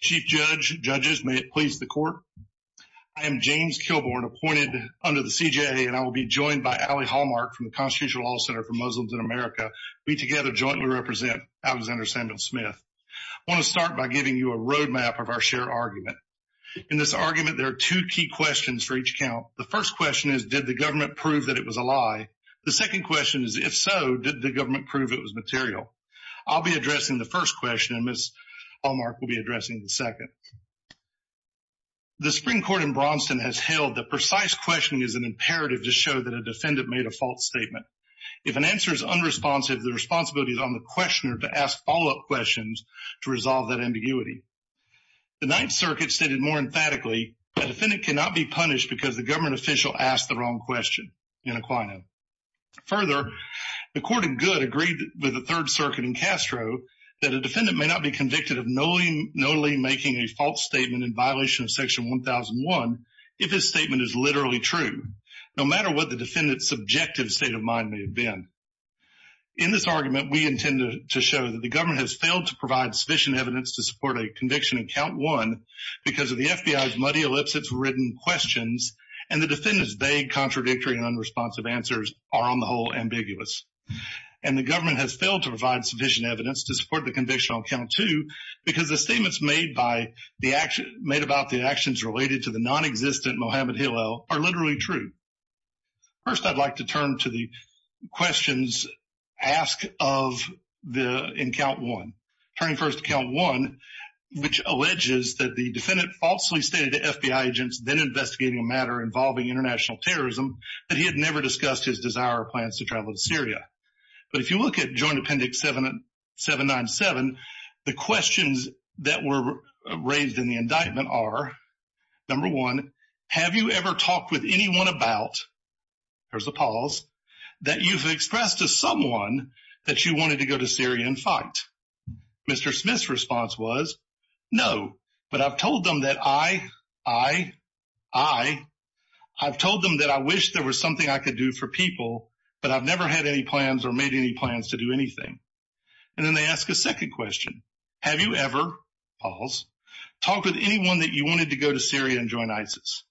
Chief Judge, Judges, may it please the Court, I am James Kilbourn, appointed under the CJA, and I will be joined by Allie Hallmark from the Constitutional Law Center for Muslims in America. We together jointly represent Alexander Samuel Smith. I want to start by giving you a roadmap of our shared argument. In this argument, there are two key questions for each count. The first question is, did the government prove that it was a lie? The second question is, if so, did the government prove it was material? I'll be addressing the first question, and Ms. Hallmark will be addressing the second. The Supreme Court in Braunston has held that precise questioning is an imperative to show that a defendant made a false statement. If an answer is unresponsive, the responsibility is on the questioner to ask follow-up questions to resolve that ambiguity. The Ninth Circuit stated more emphatically, a defendant cannot be punished because the government official asked the wrong question in Aquino. Further, the Court of Good agreed with the Third Circuit in Castro that a defendant may not be convicted of knowingly making a false statement in violation of Section 1001 if his statement is literally true, no matter what the defendant's subjective state of mind may have been. In this argument, we intend to show that the government has failed to provide sufficient evidence to support a conviction in Count 1 because of the FBI's muddy ellipses ridden questions, and the defendant's vague, contradictory, and unresponsive answers are on the whole ambiguous. And the government has failed to provide sufficient evidence to support the conviction on Count 2 because the statements made about the actions related to the nonexistent Mohammed Hillel are literally true. First, I'd like to turn to the questions asked in Count 1. Turning first to Count 1, which alleges that the defendant falsely stated to FBI agents then investigating a matter involving international terrorism that he had never discussed his desire or plans to travel to Syria. But if you look at Joint Appendix 797, the questions that were raised in the indictment are, number one, have you ever talked with anyone about, there's a pause, that you've expressed to someone that you I, I, I've told them that I wish there was something I could do for people, but I've never had any plans or made any plans to do anything. And then they ask a second question. Have you ever, pause, talked with anyone that you wanted to go to Syria and join ISIS?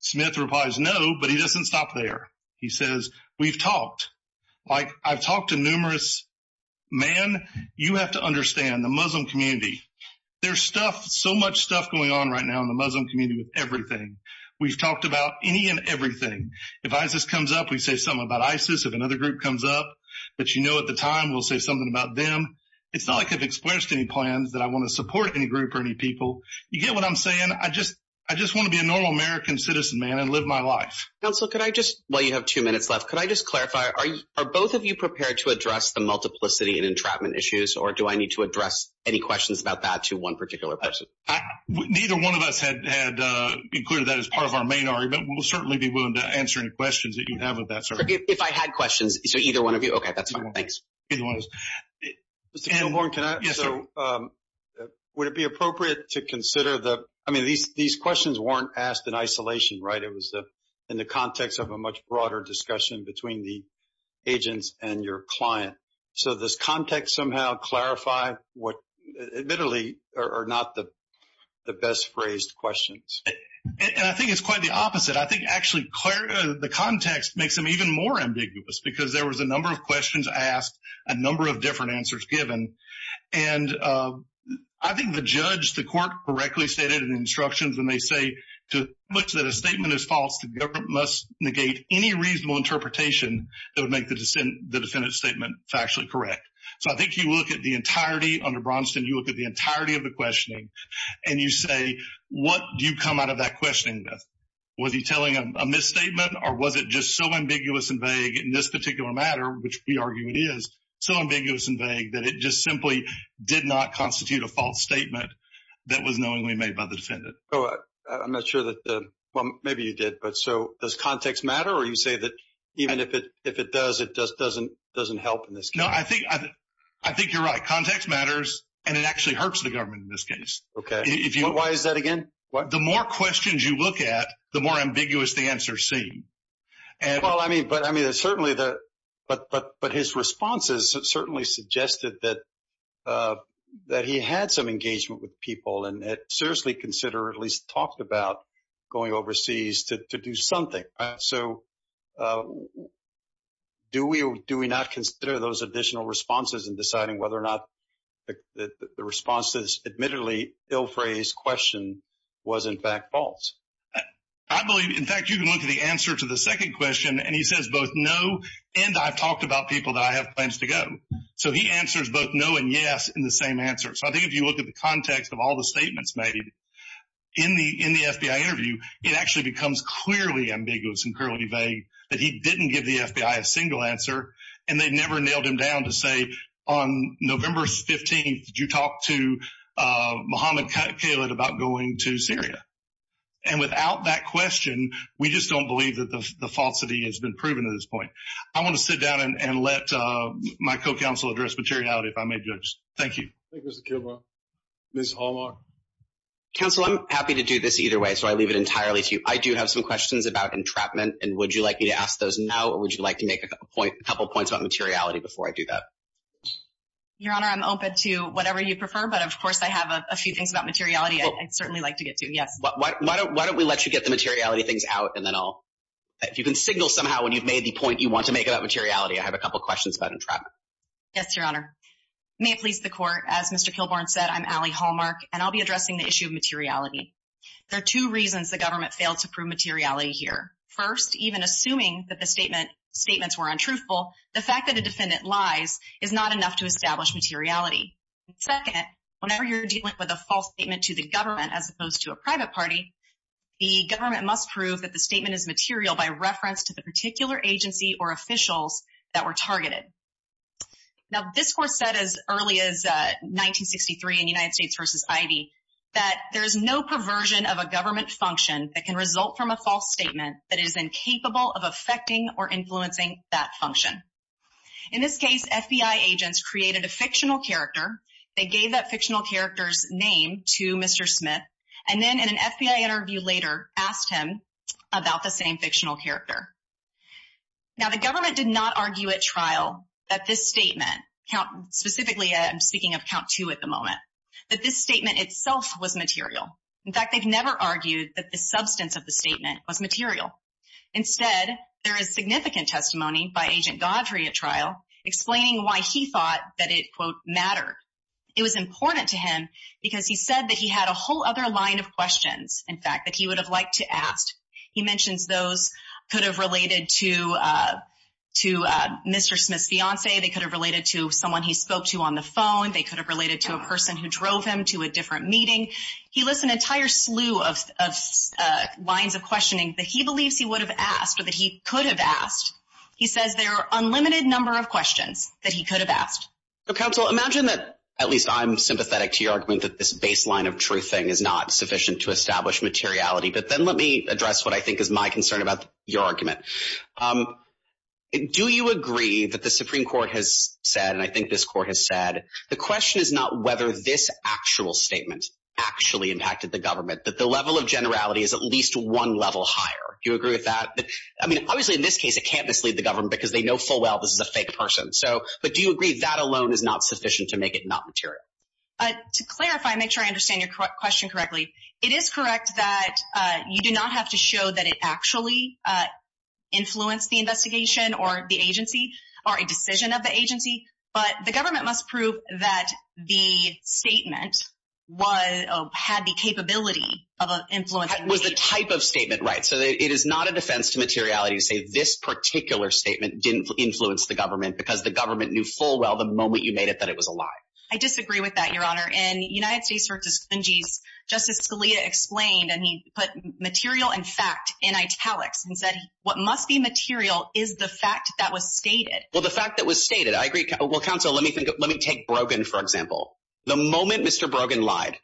Smith replies no, but he doesn't stop there. He says, we've talked. Like, I've talked to numerous men. You have to understand, the Muslim community, there's stuff, so much stuff going on right now in the Muslim community with everything. We've talked about any and everything. If ISIS comes up, we say something about ISIS. If another group comes up, but you know at the time, we'll say something about them. It's not like I've expressed any plans that I want to support any group or any people. You get what I'm saying? I just, I just want to be a normal American citizen, man, and live my life. Counsel, could I just, while you have two minutes left, could I just clarify, are you, are both of you prepared to address the multiplicity and entrapment issues, or do I need to address any questions about that to one particular person? Neither one of us had included that as part of our main argument. We'll certainly be willing to answer any questions that you have about that, sir. If I had questions, so either one of you? Okay, that's fine. Thanks. Either one of us. Mr. Kilhorn, can I? Yes, sir. So, would it be appropriate to consider the, I mean, these questions weren't asked in isolation, right? It was in the context of a much broader discussion between the agents and your client. So, does context somehow clarify what, admittedly, are not the best phrased questions? And I think it's quite the opposite. I think actually, the context makes them even more ambiguous, because there was a number of questions asked, a number of different answers given. And I think the judge, the court, correctly stated in the instructions when they say, to which that a statement is false, the government must negate any reasonable interpretation that would make the defendant's statement factually correct. So, I think you look at the entirety under Braunston, you look at the entirety of the questioning, and you say, what do you come out of that questioning with? Was he telling a misstatement, or was it just so ambiguous and vague in this particular matter, which we argue it is, so ambiguous and vague that it just simply did not constitute a false statement that was knowingly made by the defendant? I'm not sure that the, well, maybe you did, but so, does context matter? Or you say that even if it does, it just doesn't help in this case? No, I think you're right. Context matters, and it actually hurts the government in this case. Okay. Why is that again? The more questions you look at, the more ambiguous the answers seem. Well, I mean, certainly, but his responses certainly suggested that he had some engagement with people and had seriously considered, or at least talked about going overseas to do something. So, do we or do we not consider those additional responses in deciding whether or not the response to this admittedly ill-phrased question was in fact false? I believe, in fact, you can look at the answer to the second question, and he says both no and I've talked about people that I have plans to go. So, he answers both no and yes in the same answer. So, I think if you look at the context of all the statements made in the FBI interview, it actually becomes clearly ambiguous and clearly vague that he didn't give the FBI a single answer, and they never nailed him down to say on November 15th, did you talk to Mohammed Khaled about going to Syria? And without that question, we just don't believe that the falsity has been proven at this point. I want to sit down and let my co-counsel address materiality if I may, Judge. Thank you. Thank you, Mr. Kilgore. Ms. Hallmark? Counsel, I'm happy to do this either way, so I leave it entirely to you. I do have some questions about entrapment, and would you like me to ask those now, or would you like to make a couple points about materiality before I do that? Your Honor, I'm open to whatever you prefer, but of course, I have a few things about materiality I'd certainly like to get to. Yes. Why don't we let you get the materiality things out, and then I'll, if you can signal somehow when you've made the point you want to make about materiality, I have a couple questions about entrapment. Yes, Your Honor. May it please the Court, as Mr. Kilgore said, I'm Allie Hallmark, and I'll be addressing the issue of materiality. There are two reasons the government failed to prove materiality here. First, even assuming that the statements were untruthful, the fact that a defendant lies is not enough to establish materiality. Second, whenever you're dealing with a false statement to the government as opposed to a private party, the government must prove that the statement is material by reference to the particular agency or officials that were targeted. Now, this Court said as early as 1963 in United States v. Ivey that there is no perversion of a government function that can result from a false statement that is incapable of affecting or influencing that function. In this case, FBI agents created a fictional character. They gave that fictional character's name to Mr. Smith, and then in an FBI interview later asked him about the same fictional character. Now, the government did not argue at trial that this statement, specifically I'm speaking of count two at the moment, that this statement itself was material. In fact, they've never argued that the substance of the statement was material. Instead, there is significant testimony by Agent Godfrey at trial explaining why he thought that it, quote, mattered. It was important to him because he said that he had a whole other line of questions, in fact, that he would have liked to ask. He mentions those could have related to Mr. Smith's fiancee. They could have related to someone he spoke to on the phone. They could have related to a person who drove him to a different meeting. He lists an entire slew of lines of questioning that he believes he would have asked or that he could have asked. He says there are unlimited number of questions that he could have asked. So, counsel, imagine that, at least I'm sympathetic to your argument, that this baseline of truth thing is not sufficient to establish materiality. But then let me address what I think is my concern about your argument. Do you agree that the Supreme Court has said, and I think this court has said, the question is not whether this actual statement actually impacted the government, but the level of generality is at least one level higher. Do you agree with that? I mean, obviously, in this case, it can't mislead the government because they know full well this is a fake person. So, but do you agree that alone is not sufficient to make it not material? To clarify, make sure I understand your question correctly. It is correct that you do not have to show that it actually influenced the investigation or the agency or a decision of the agency. But the government must prove that the statement was or had the capability of influencing. Was the type of statement right? So, it is not a defense to materiality to say this particular statement didn't influence the government because the government knew full well the moment you made it that it was a lie. I disagree with that, Your Honor. In United States vs. Fungi, Justice Scalia explained and he put material and fact in italics and said, what must be material is the fact that was stated. Well, the fact that was stated, I agree. Well, counsel, let me take Brogan, for example. The moment Mr. Brogan lied,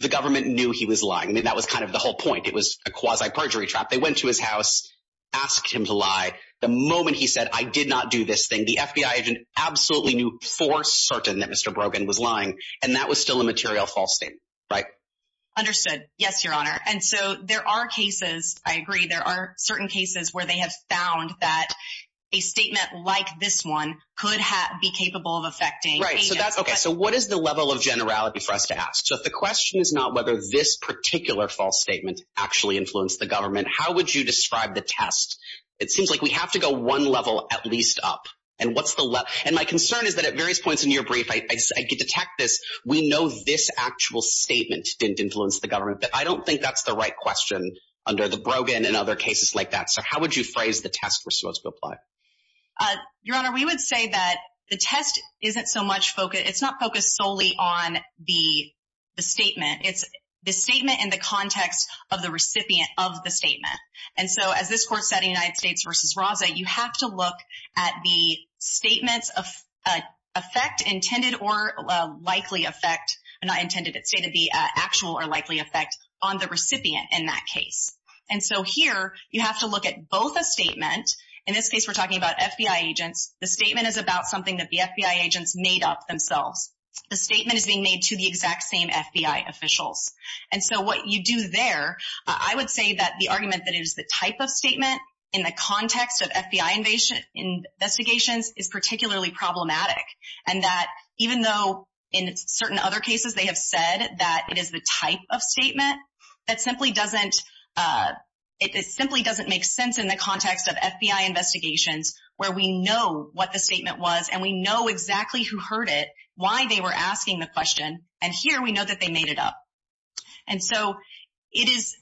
the government knew he was lying. I mean, that was kind of the whole point. It was a quasi-perjury trap. They went to his house, asked him to lie. The moment he said, I did not do this thing, the FBI agent absolutely knew for certain that Mr. Brogan was lying. And that was still a material false statement, right? Understood. Yes, Your Honor. And so, there are cases, I agree, there are certain cases where they have found that a statement like this one could be capable of affecting agents. Right. So, what is the level of generality for us to ask? So, if the question is not whether this particular false statement actually influenced the government, how would you describe the test? It seems like we have to go one level at least up. And what's the level? And my concern is that at various points in your brief, I detect this, we know this actual statement didn't influence the government. But I don't think that's the right question under the Brogan and other cases like that. So, how would you phrase the test we're supposed to apply? Your Honor, we would say that the test isn't so much focused. It's not focused solely on the statement. It's the statement in the context of the recipient of the statement. And so, as this court said in United States v. Raza, you have to look at the statements of effect, intended or likely effect, not intended, it's stated the actual or likely effect on the recipient in that case. And so, here, you have to look at both a statement. In this case, we're talking about FBI agents. The statement is about something that the FBI agents made up themselves. The statement is being made to the exact same FBI officials. And so, what you do there, I would say that the argument that it is the type of statement in the context of FBI investigations is particularly problematic. And that even though in certain other cases, they have said that it is the type of statement, that simply doesn't make sense in the context of FBI investigations where we know what the statement was and we know exactly who heard it, why they were asking the question. And here, we know that they made it up. And so, it is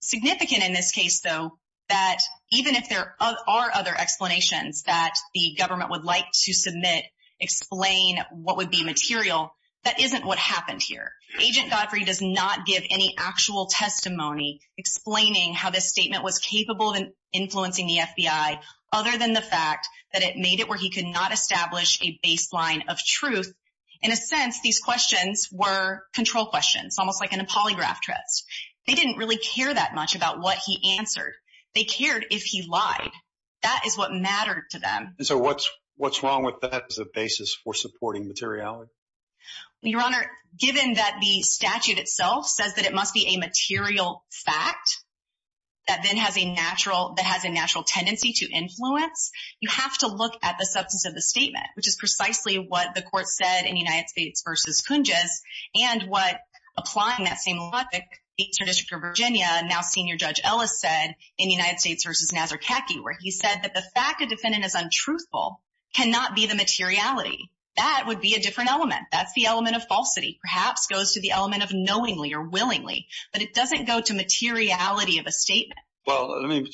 significant in this case, though, that even if there are other explanations that the government would like to submit, explain what would be material, that isn't what happened here. Agent Godfrey does not give any actual testimony explaining how this statement was capable of influencing the FBI, other than the fact that it made it where he could not establish a baseline of truth. In a sense, these questions were control questions, almost like in a polygraph test. They didn't really care that much about what he answered. They cared if he lied. That is what mattered to them. And so, what's wrong with that as a basis for supporting materiality? Your Honor, given that the statute itself says that it must be a material fact that then has a natural tendency to influence, you have to look at the substance of the statement, which is precisely what the Court said in United States v. Kunjes, and what applying that same logic, the District of Virginia, now Senior Judge Ellis said in United States v. Nazarkacki, where he said that the fact a defendant is untruthful cannot be the materiality. That would be a different element. That's the element of falsity, perhaps goes to the element of knowingly or willingly. But it doesn't go to materiality of a statement. Well, let me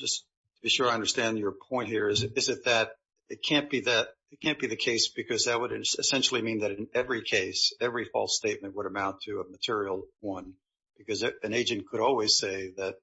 just be sure I understand your point here. Is it that it can't be the case because that would essentially mean that in every case, every false statement would amount to a material one? Because an agent could always say that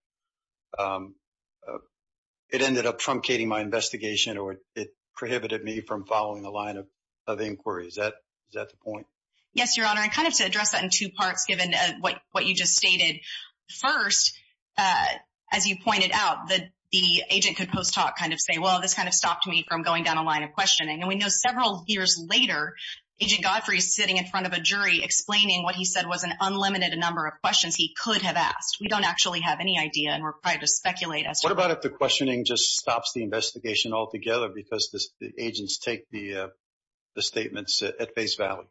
it ended up truncating my investigation or it prohibited me from following the line of inquiry. Is that the point? Yes, Your Honor. And kind of to address that in two parts, given what you just stated. First, as you pointed out, the agent could post hoc kind of say, well, this kind of stopped me from going down a line of questioning. And we know several years later, Agent Godfrey is sitting in front of a jury explaining what he said was an unlimited number of questions he could have asked. We don't actually have any idea and we're required to speculate as to... What about if the questioning just stops the investigation altogether because the agents take the statements at face value?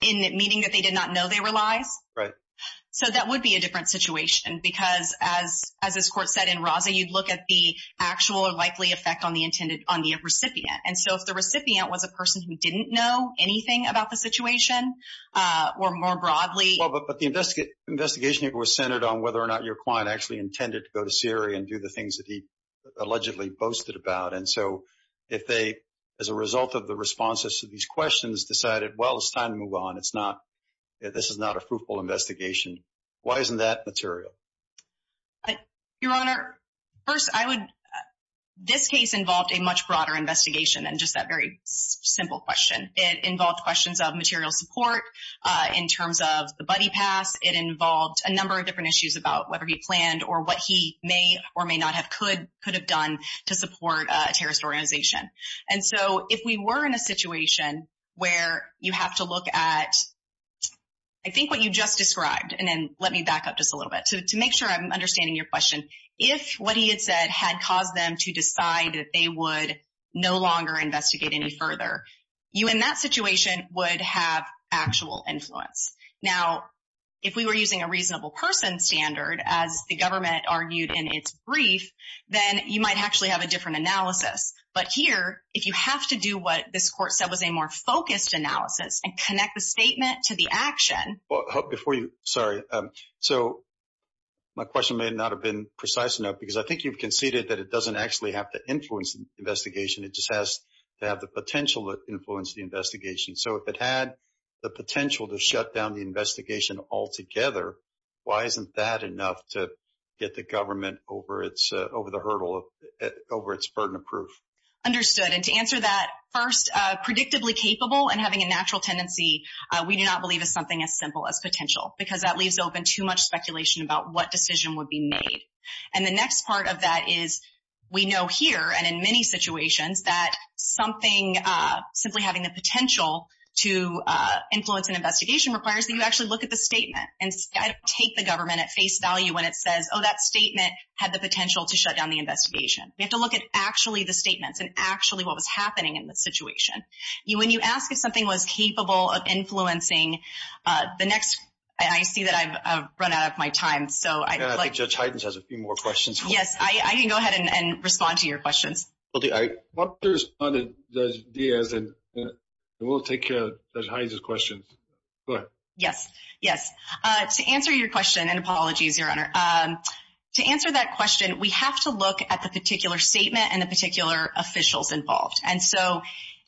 In meaning that they did not know they were lies? Right. So that would be a different situation because as this court said in Raza, you'd look at the actual or likely effect on the recipient. And so if the recipient was a person who didn't know anything about the situation or more broadly... Well, but the investigation here was centered on whether or not your client actually intended to go to Syria and do the things that he allegedly boasted about. And so if they, as a result of the responses to these questions, decided, well, it's time to move on. This is not a fruitful investigation. Why isn't that material? Your Honor, first, I would... This case involved a much broader investigation than just that very simple question. It involved questions of material support in terms of the buddy pass. It involved a number of different issues about whether he planned or what he may or may not have could have done to support a terrorist organization. And so if we were in a situation where you have to look at, I think what you just described, and then let me back up just a little bit to make sure I'm understanding your question. If what he had said had caused them to decide that they would no longer investigate any further, you in that situation would have actual influence. Now, if we were using a reasonable person standard, as the government argued in its brief, then you might actually have a different analysis. But here, if you have to do what this court said was a more focused analysis and connect the statement to the action... Before you... Sorry. So my question may not have been precise enough because I think you've conceded that it doesn't actually have to influence the investigation. It just has to have the potential to influence the investigation. So if it had the potential to shut down the investigation altogether, why isn't that enough to get the government over the hurdle, over its burden of proof? Understood. And to answer that, first, predictably capable and having a natural tendency, we do not believe is something as simple as potential because that leaves open too much speculation about what decision would be made. And the next part of that is we know here and in many situations that something simply having the potential to influence an investigation requires that you actually look at the statement and take the government at face value when it says, oh, that statement had the potential to shut down the investigation. We have to look at actually the statements and actually what was happening in the situation. When you ask if something was capable of influencing the next... I see that I've run out of my time, so I'd like... I think Judge Hyden has a few more questions. Yes. I can go ahead and respond to your questions. I'll respond to Judge Diaz and we'll take Judge Hyden's questions. Go ahead. Yes. Yes. To answer your question, and apologies, Your Honor, to answer that question, we have to look at the particular statement and the particular officials involved. And so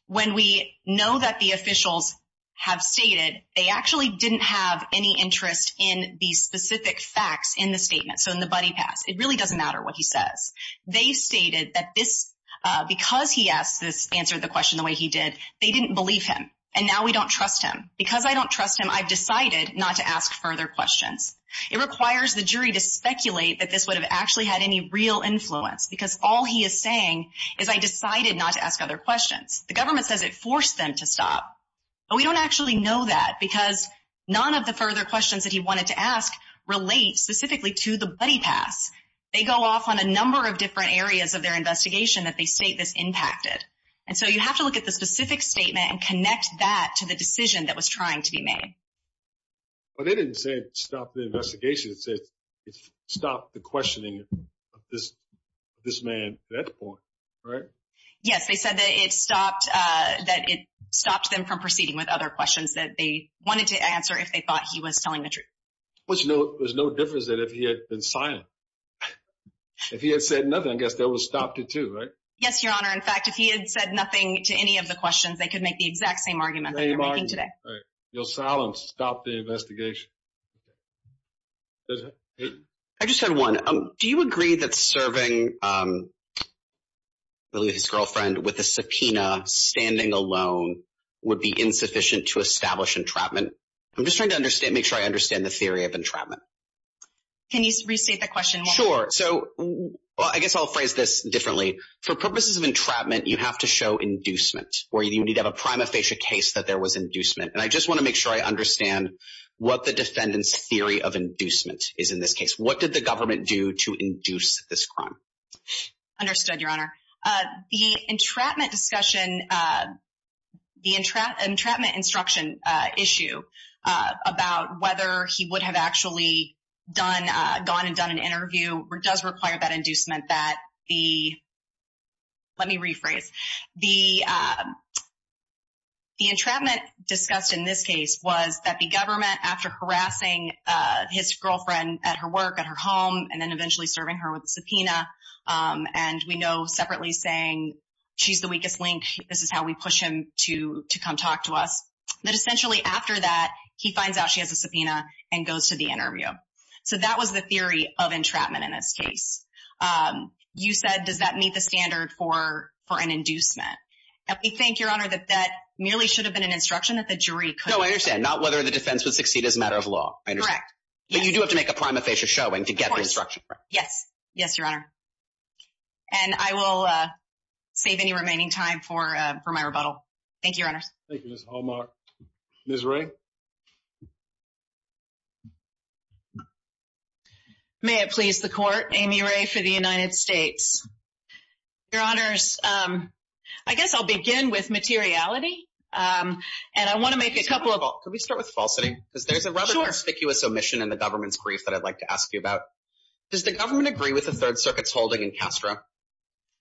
when we know that the officials have stated, they actually didn't have any interest in the specific facts in the statement, so in the Buddy Pass. It really doesn't matter what he says. They just stated that because he answered the question the way he did, they didn't believe him. And now we don't trust him. Because I don't trust him, I've decided not to ask further questions. It requires the jury to speculate that this would have actually had any real influence because all he is saying is I decided not to ask other questions. The government says it forced them to stop. But we don't actually know that because none of the further questions that he wanted to ask relate specifically to the Buddy Pass. They go off on a number of different areas of their investigation that they state this impacted. And so you have to look at the specific statement and connect that to the decision that was trying to be made. But they didn't say it stopped the investigation. It said it stopped the questioning of this man at that point, right? Yes. They said that it stopped them from proceeding with other questions that they wanted to answer if they thought he was telling the truth. There's no difference that if he had been silent. If he had said nothing, I guess that would have stopped it too, right? Yes, Your Honor. In fact, if he had said nothing to any of the questions, they could make the exact same argument that they're making today. Your silence stopped the investigation. I just had one. Do you agree that serving his girlfriend with a subpoena standing alone would be insufficient to establish entrapment? I'm just trying to make sure I understand the theory of entrapment. Can you restate the question? Sure. So I guess I'll phrase this differently. For purposes of entrapment, you have to show inducement, or you need to have a prima facie case that there was inducement. And I just want to make sure I understand what the defendant's theory of inducement is in this case. What did the government do to induce this crime? Understood, Your Honor. The entrapment instruction issue about whether he would have actually gone and done an interview does require that inducement. Let me rephrase. The entrapment discussed in this case was that the government, after harassing his girlfriend at her work, at her home, and then eventually serving her with a subpoena, and we know separately saying she's the weakest link, this is how we push him to come talk to us, that essentially after that, he finds out she has a subpoena and goes to the interview. So that was the theory of entrapment in this case. You said, does that meet the standard for an inducement? And we think, Your Honor, that that merely should have been an instruction that the jury could have. No, I understand. Not whether the defense would succeed as a matter of law. I understand. Correct. But you do have to make a prima facie showing to get the instruction. Yes. Yes, Your Honor. And I will save any remaining time for my rebuttal. Thank you, Your Honors. Thank you, Ms. Hallmark. Ms. Wray? May it please the Court, Amy Wray for the United States. Your Honors, I guess I'll begin with materiality, and I want to make a couple of— in the government's brief that I'd like to ask you about. Does the government agree with the Third Circuit's holding in Castro?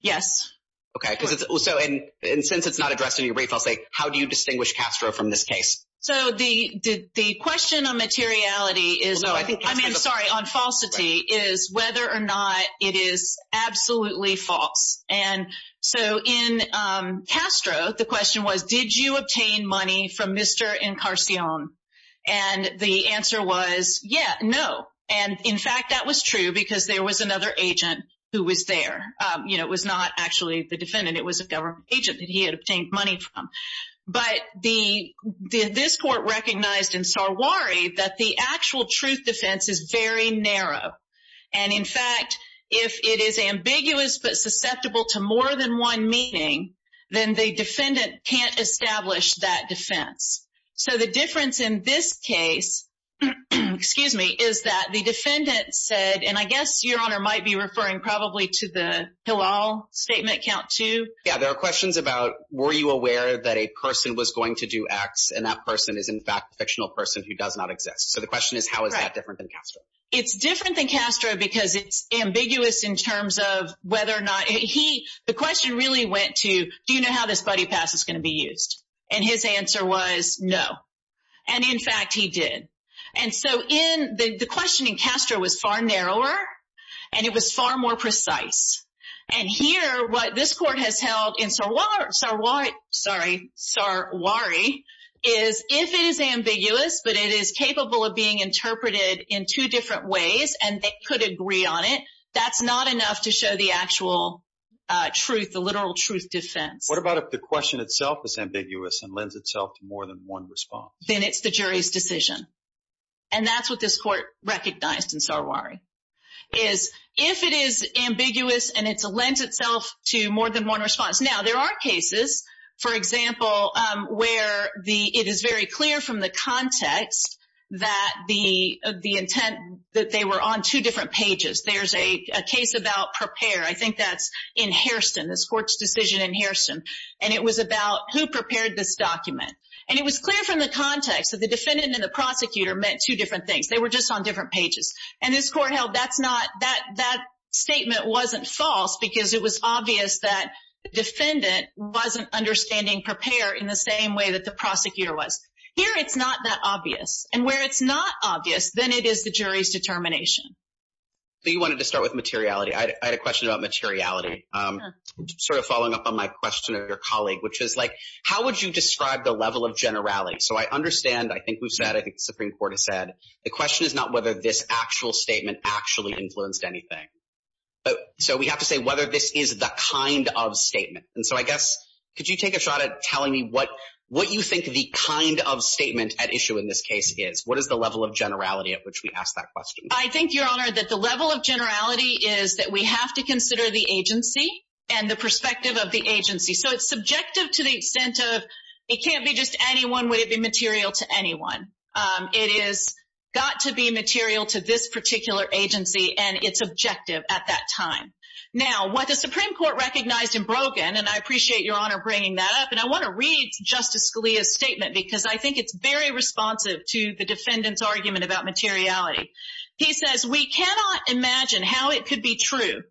Yes. Okay. And since it's not addressed in your brief, I'll say, how do you distinguish Castro from this case? So the question on materiality is— No, I think Castro— I mean, sorry, on falsity, is whether or not it is absolutely false. And so in Castro, the question was, did you obtain money from Mr. Encarcion? And the answer was, yeah, no. And, in fact, that was true because there was another agent who was there. It was not actually the defendant. It was a government agent that he had obtained money from. But this Court recognized in Sarwari that the actual truth defense is very narrow. And, in fact, if it is ambiguous but susceptible to more than one meaning, then the defendant can't establish that defense. So the difference in this case— excuse me—is that the defendant said—and I guess Your Honor might be referring probably to the Hillel statement, count two. Yeah, there are questions about, were you aware that a person was going to do X, and that person is, in fact, a fictional person who does not exist? So the question is, how is that different than Castro? It's different than Castro because it's ambiguous in terms of whether or not—the question really went to, do you know how this buddy pass is going to be used? And his answer was, no. And, in fact, he did. And so the question in Castro was far narrower, and it was far more precise. And here, what this Court has held in Sarwari is, if it is ambiguous but it is capable of being interpreted in two different ways and they could agree on it, that's not enough to show the actual truth, the literal truth defense. What about if the question itself is ambiguous and lends itself to more than one response? Then it's the jury's decision. And that's what this Court recognized in Sarwari, is if it is ambiguous and it lends itself to more than one response. Now, there are cases, for example, where it is very clear from the context that the intent—that they were on two different pages. There's a case about prepare. I think that's in Hairston. This Court's decision in Hairston. And it was about who prepared this document. And it was clear from the context that the defendant and the prosecutor meant two different things. They were just on different pages. And this Court held that statement wasn't false because it was obvious that the defendant wasn't understanding prepare in the same way that the prosecutor was. Here, it's not that obvious. And where it's not obvious, then it is the jury's determination. So you wanted to start with materiality. I had a question about materiality. Sure. Sort of following up on my question of your colleague, which is like, how would you describe the level of generality? So I understand, I think we've said, I think the Supreme Court has said, the question is not whether this actual statement actually influenced anything. So we have to say whether this is the kind of statement. And so I guess, could you take a shot at telling me what you think the kind of statement at issue in this case is? What is the level of generality at which we ask that question? I think, Your Honor, that the level of generality is that we have to consider the agency and the perspective of the agency. So it's subjective to the extent of, it can't be just anyone. Would it be material to anyone? It has got to be material to this particular agency and its objective at that time. Now, what the Supreme Court recognized in Brogan, and I appreciate Your Honor bringing that up, and I want to read Justice Scalia's statement because I think it's very responsive to the defendant's argument about materiality. He says, we cannot imagine how it could be true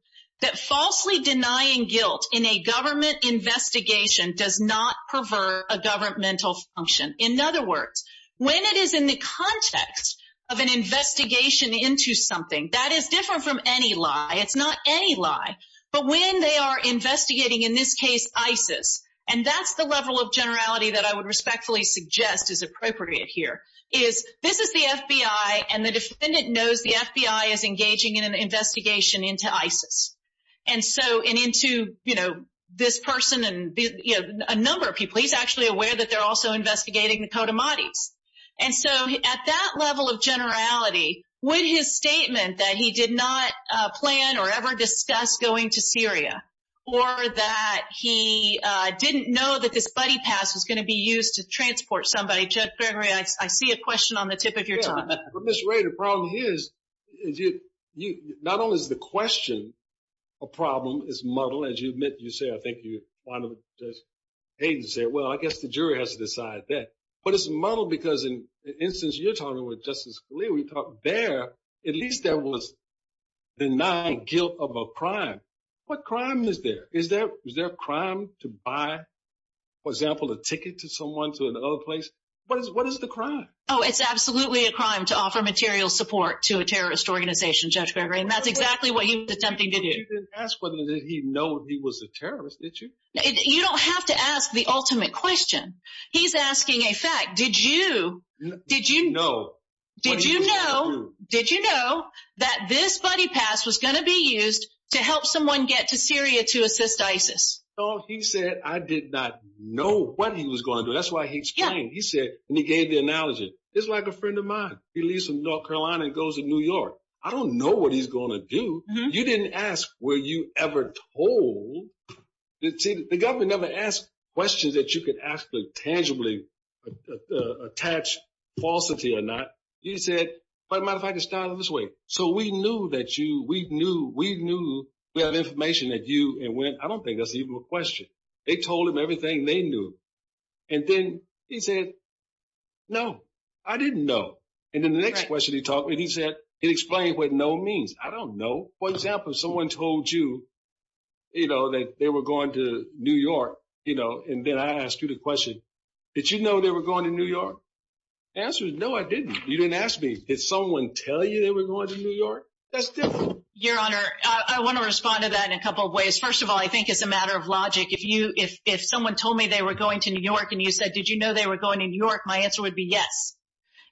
that falsely denying guilt in a government investigation does not pervert a governmental function. In other words, when it is in the context of an investigation into something, that is different from any lie. It's not any lie. But when they are investigating, in this case, ISIS, and that's the level of generality that I would respectfully suggest is appropriate here, is this is the FBI, and the defendant knows the FBI is engaging in an investigation into ISIS. And so, and into, you know, this person and a number of people. He's actually aware that they're also investigating the Kodamatis. And so, at that level of generality, would his statement that he did not plan or ever discuss going to Syria, or that he didn't know that this buddy pass was going to be used to transport somebody, Judge Gregory, I see a question on the tip of your tongue. Ms. Ray, the problem here is, not only is the question a problem, it's muddled. As you admit, you say, I think you want to, as Hayden said, well, I guess the jury has to decide that. But it's muddled because in the instance you're talking with Justice Scalia, we thought there, at least there was denied guilt of a crime. What crime is there? Is there a crime to buy, for example, a ticket to someone to another place? What is the crime? Oh, it's absolutely a crime to offer material support to a terrorist organization, Judge Gregory. And that's exactly what he was attempting to do. You didn't ask whether he knew he was a terrorist, did you? You don't have to ask the ultimate question. He's asking a fact. Did you know that this buddy pass was going to be used to help someone get to Syria to assist ISIS? Oh, he said I did not know what he was going to do. That's why he explained. He said, and he gave the analogy, it's like a friend of mine. He leaves from North Carolina and goes to New York. I don't know what he's going to do. You didn't ask were you ever told. See, the government never asked questions that you could actually tangibly attach falsity or not. He said, as a matter of fact, it started this way. So we knew that you, we knew, we knew we had information that you and when. I don't think that's even a question. They told him everything they knew. And then he said, no, I didn't know. And then the next question he taught me, he said, he explained what no means. I don't know. For example, if someone told you, you know, that they were going to New York, you know, and then I asked you the question, did you know they were going to New York? The answer is no, I didn't. You didn't ask me. Did someone tell you they were going to New York? That's different. Your Honor, I want to respond to that in a couple of ways. First of all, I think it's a matter of logic. If someone told me they were going to New York and you said, did you know they were going to New York? My answer would be yes.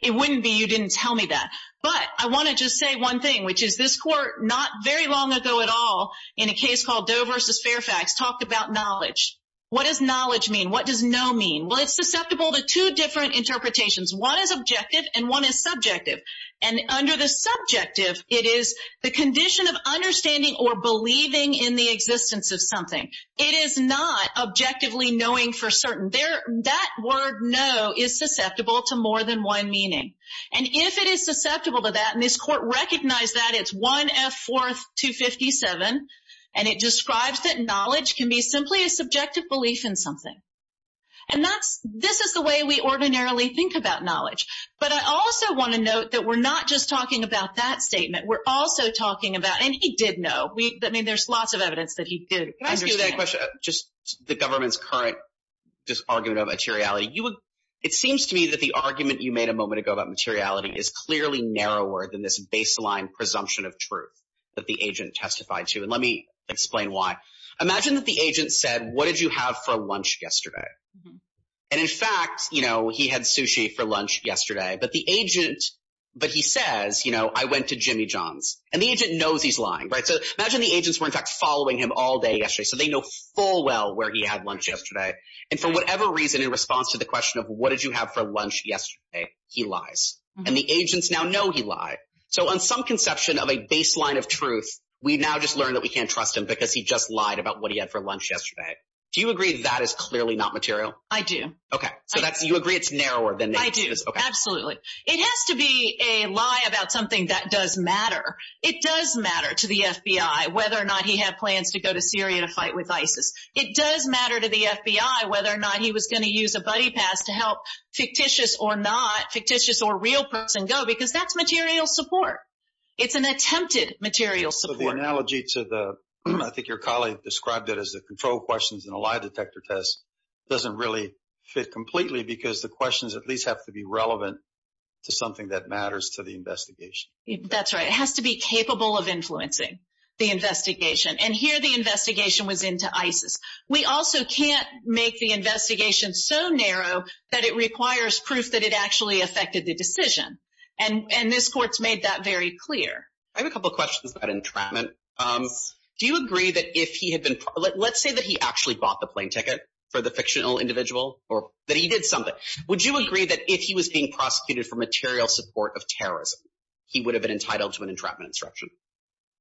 It wouldn't be you didn't tell me that. But I want to just say one thing, which is this court not very long ago at all, in a case called Doe versus Fairfax, talked about knowledge. What does knowledge mean? What does no mean? Well, it's susceptible to two different interpretations. One is objective and one is subjective. And under the subjective, it is the condition of understanding or believing in the existence of something. It is not objectively knowing for certain. That word no is susceptible to more than one meaning. And if it is susceptible to that, and this court recognized that, it's 1F 4th 257, and it describes that knowledge can be simply a subjective belief in something. And this is the way we ordinarily think about knowledge. But I also want to note that we're not just talking about that statement. We're also talking about, and he did know. I mean, there's lots of evidence that he did. Can I ask you that question, just the government's current argument of materiality? It seems to me that the argument you made a moment ago about materiality is clearly narrower than this baseline presumption of truth that the agent testified to. And let me explain why. Imagine that the agent said, what did you have for lunch yesterday? And in fact, you know, he had sushi for lunch yesterday. But the agent, but he says, you know, I went to Jimmy John's. And the agent knows he's lying. So imagine the agents were, in fact, following him all day yesterday, so they know full well where he had lunch yesterday. And for whatever reason, in response to the question of what did you have for lunch yesterday, he lies. And the agents now know he lied. So on some conception of a baseline of truth, we now just learn that we can't trust him because he just lied about what he had for lunch yesterday. Do you agree that is clearly not material? I do. Okay. So you agree it's narrower than this? I do, absolutely. It has to be a lie about something that does matter. It does matter to the FBI whether or not he had plans to go to Syria to fight with ISIS. It does matter to the FBI whether or not he was going to use a buddy pass to help fictitious or not, fictitious or real person go, because that's material support. It's an attempted material support. So the analogy to the, I think your colleague described it as the control questions in a lie detector test, doesn't really fit completely because the questions at least have to be relevant to something that matters to the investigation. That's right. It has to be capable of influencing the investigation. And here the investigation was into ISIS. We also can't make the investigation so narrow that it requires proof that it actually affected the decision. And this court's made that very clear. I have a couple questions about entrapment. Do you agree that if he had been, let's say that he actually bought the plane ticket for the fictional individual or that he did something, would you agree that if he was being prosecuted for material support of terrorism, he would have been entitled to an entrapment instruction?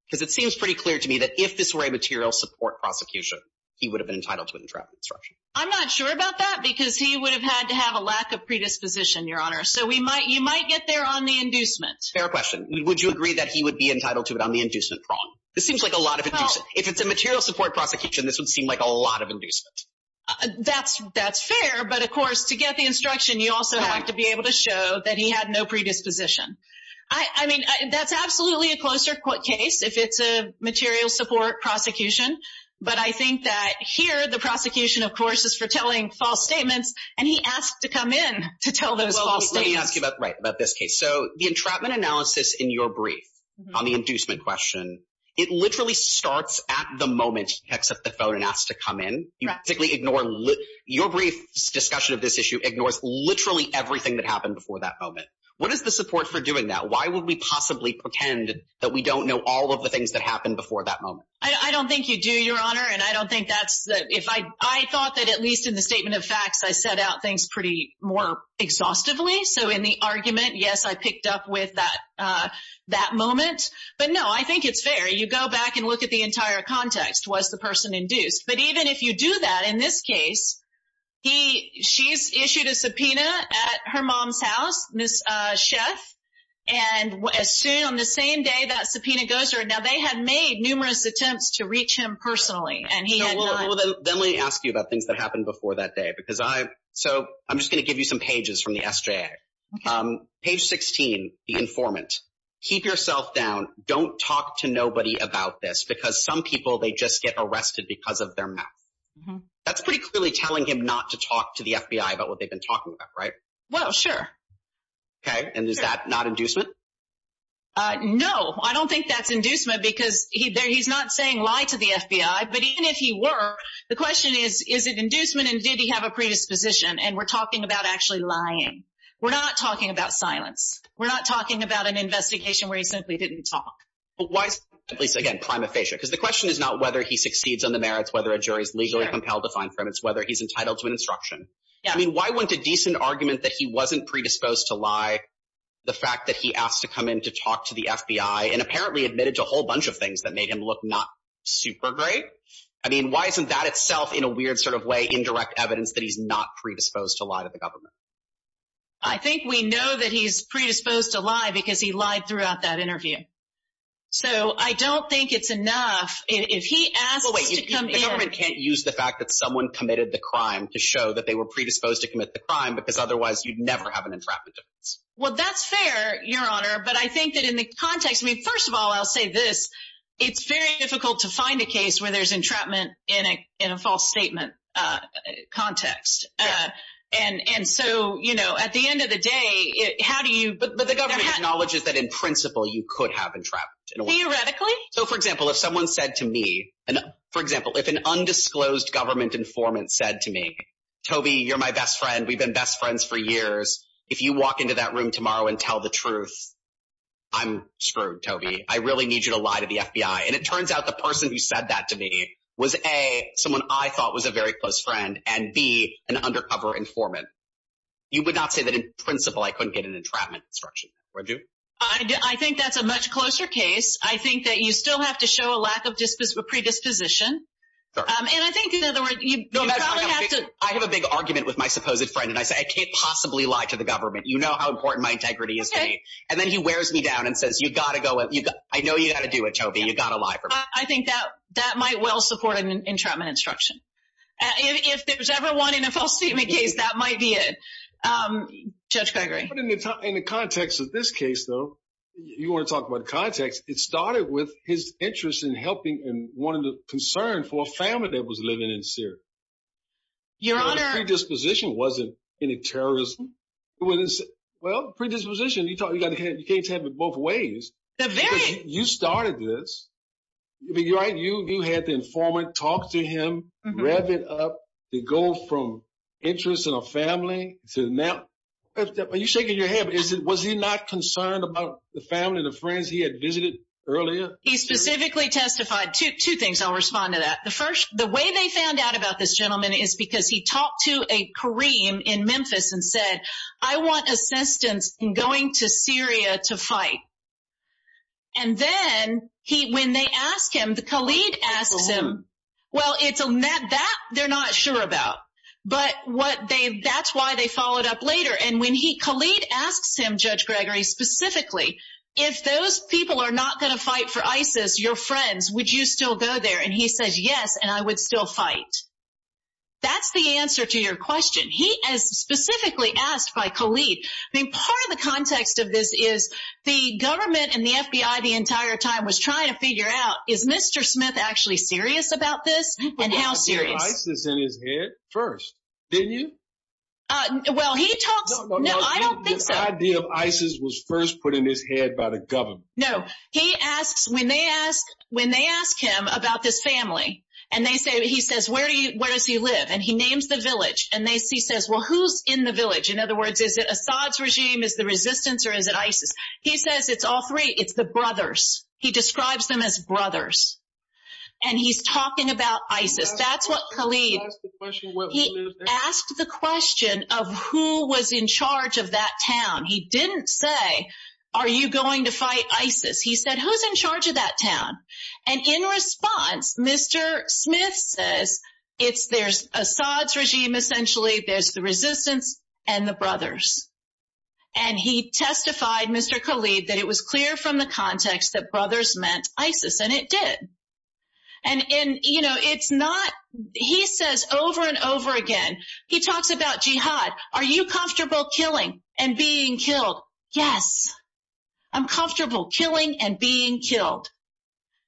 Because it seems pretty clear to me that if this were a material support prosecution, he would have been entitled to an entrapment instruction. I'm not sure about that because he would have had to have a lack of predisposition, Your Honor. So you might get there on the inducement. Fair question. Would you agree that he would be entitled to it on the inducement prong? This seems like a lot of inducement. If it's a material support prosecution, this would seem like a lot of inducement. That's fair. But, of course, to get the instruction, you also have to be able to show that he had no predisposition. I mean, that's absolutely a closer case if it's a material support prosecution. But I think that here the prosecution, of course, is for telling false statements, and he asked to come in to tell those false statements. Let me ask you about this case. So the entrapment analysis in your brief on the inducement question, it literally starts at the moment he picks up the phone and asks to come in. Your brief discussion of this issue ignores literally everything that happened before that moment. What is the support for doing that? Why would we possibly pretend that we don't know all of the things that happened before that moment? I don't think you do, Your Honor, and I don't think that's – I thought that at least in the statement of facts I set out things pretty more exhaustively. So in the argument, yes, I picked up with that moment. But, no, I think it's fair. You go back and look at the entire context. Was the person induced? But even if you do that in this case, she's issued a subpoena at her mom's house, Ms. Sheff, and as soon – on the same day that subpoena goes through. Now, they had made numerous attempts to reach him personally, and he had none. Well, then let me ask you about things that happened before that day because I – so I'm just going to give you some pages from the SJA. Page 16, the informant. Keep yourself down. Don't talk to nobody about this because some people, they just get arrested because of their meth. That's pretty clearly telling him not to talk to the FBI about what they've been talking about, right? Well, sure. Okay. And is that not inducement? No. I don't think that's inducement because he's not saying lie to the FBI. But even if he were, the question is, is it inducement and did he have a predisposition? And we're talking about actually lying. We're not talking about silence. We're not talking about an investigation where he simply didn't talk. But why – at least, again, prima facie, because the question is not whether he succeeds on the merits, whether a jury is legally compelled to fine him. It's whether he's entitled to an instruction. I mean, why wouldn't a decent argument that he wasn't predisposed to lie, the fact that he asked to come in to talk to the FBI and apparently admitted to a whole bunch of things that made him look not super great, I mean, why isn't that itself in a weird sort of way indirect evidence that he's not predisposed to lie to the government? I think we know that he's predisposed to lie because he lied throughout that interview. So I don't think it's enough. If he asks to come in – Well, wait. The government can't use the fact that someone committed the crime to show that they were predisposed to commit the crime because otherwise you'd never have an entrapment defense. Well, that's fair, Your Honor. But I think that in the context – I mean, first of all, I'll say this. It's very difficult to find a case where there's entrapment in a false statement context. And so, you know, at the end of the day, how do you – But the government acknowledges that in principle you could have entrapment. Theoretically? So, for example, if someone said to me – for example, if an undisclosed government informant said to me, Toby, you're my best friend. We've been best friends for years. If you walk into that room tomorrow and tell the truth, I'm screwed, Toby. I really need you to lie to the FBI. And it turns out the person who said that to me was, A, someone I thought was a very close friend, and, B, an undercover informant. You would not say that in principle I couldn't get an entrapment instruction, would you? I think that's a much closer case. I think that you still have to show a lack of predisposition. And I think, in other words, you probably have to – I have a big argument with my supposed friend, and I say, I can't possibly lie to the government. You know how important my integrity is to me. And then he wears me down and says, you've got to go – I know you've got to do it, Toby. You've got to lie for me. So I think that might well support an entrapment instruction. If there's ever one in a false statement case, that might be it. Judge Gregory. In the context of this case, though, you want to talk about context, it started with his interest in helping and wanting to concern for a family that was living in Syria. Your Honor – The predisposition wasn't any terrorism. Well, predisposition, you can't have it both ways. The very – Because you started this. You had the informant talk to him, rev it up, the goal from interest in a family to now – are you shaking your head? Was he not concerned about the family, the friends he had visited earlier? He specifically testified – two things. I'll respond to that. The first, the way they found out about this gentleman is because he talked to a Kareem in Memphis and said, I want assistance in going to Syria to fight. And then when they ask him, the Khalid asks him – Well, it's – that they're not sure about. But what they – that's why they followed up later. And when he – Khalid asks him, Judge Gregory, specifically, if those people are not going to fight for ISIS, your friends, would you still go there? And he says, yes, and I would still fight. That's the answer to your question. He is specifically asked by Khalid – I mean, part of the context of this is the government and the FBI the entire time was trying to figure out, is Mr. Smith actually serious about this? And how serious? He put the idea of ISIS in his head first, didn't you? Well, he talks – no, I don't think so. The idea of ISIS was first put in his head by the government. No. He asks – when they ask him about this family and they say – he says, where does he live? And he names the village. And they – he says, well, who's in the village? In other words, is it Assad's regime, is it the resistance, or is it ISIS? He says it's all three. It's the brothers. He describes them as brothers. And he's talking about ISIS. That's what Khalid – He asked the question of who was in charge of that town. He didn't say, are you going to fight ISIS? He said, who's in charge of that town? And in response, Mr. Smith says it's – there's Assad's regime, essentially. There's the resistance and the brothers. And he testified, Mr. Khalid, that it was clear from the context that brothers meant ISIS. And it did. And, you know, it's not – he says over and over again – he talks about jihad. Are you comfortable killing and being killed? Yes. I'm comfortable killing and being killed.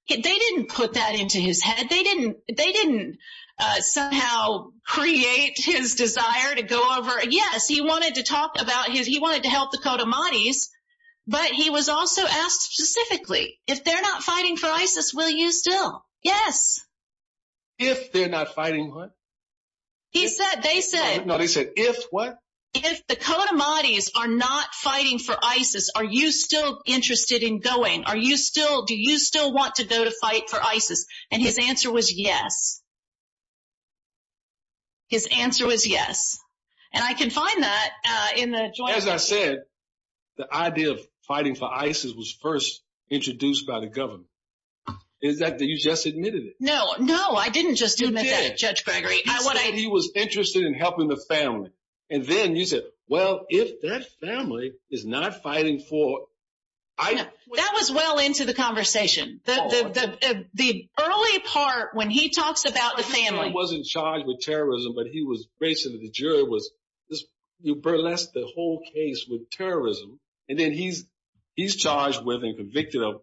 They didn't put that into his head. They didn't – they didn't somehow create his desire to go over – yes, he wanted to talk about his – he wanted to help the Kodamatis. But he was also asked specifically, if they're not fighting for ISIS, will you still? Yes. If they're not fighting what? He said – they said – No, they said, if what? If the Kodamatis are not fighting for ISIS, are you still interested in going? Are you still – do you still want to go to fight for ISIS? And his answer was yes. His answer was yes. And I can find that in the – As I said, the idea of fighting for ISIS was first introduced by the government. Is that – you just admitted it. No, no, I didn't just admit that, Judge Gregory. You did. And then you said, well, if that family is not fighting for ISIS – That was well into the conversation. The early part when he talks about the family – He wasn't charged with terrorism, but he was – basically, the jury was – you burlesque the whole case with terrorism, and then he's charged with and convicted of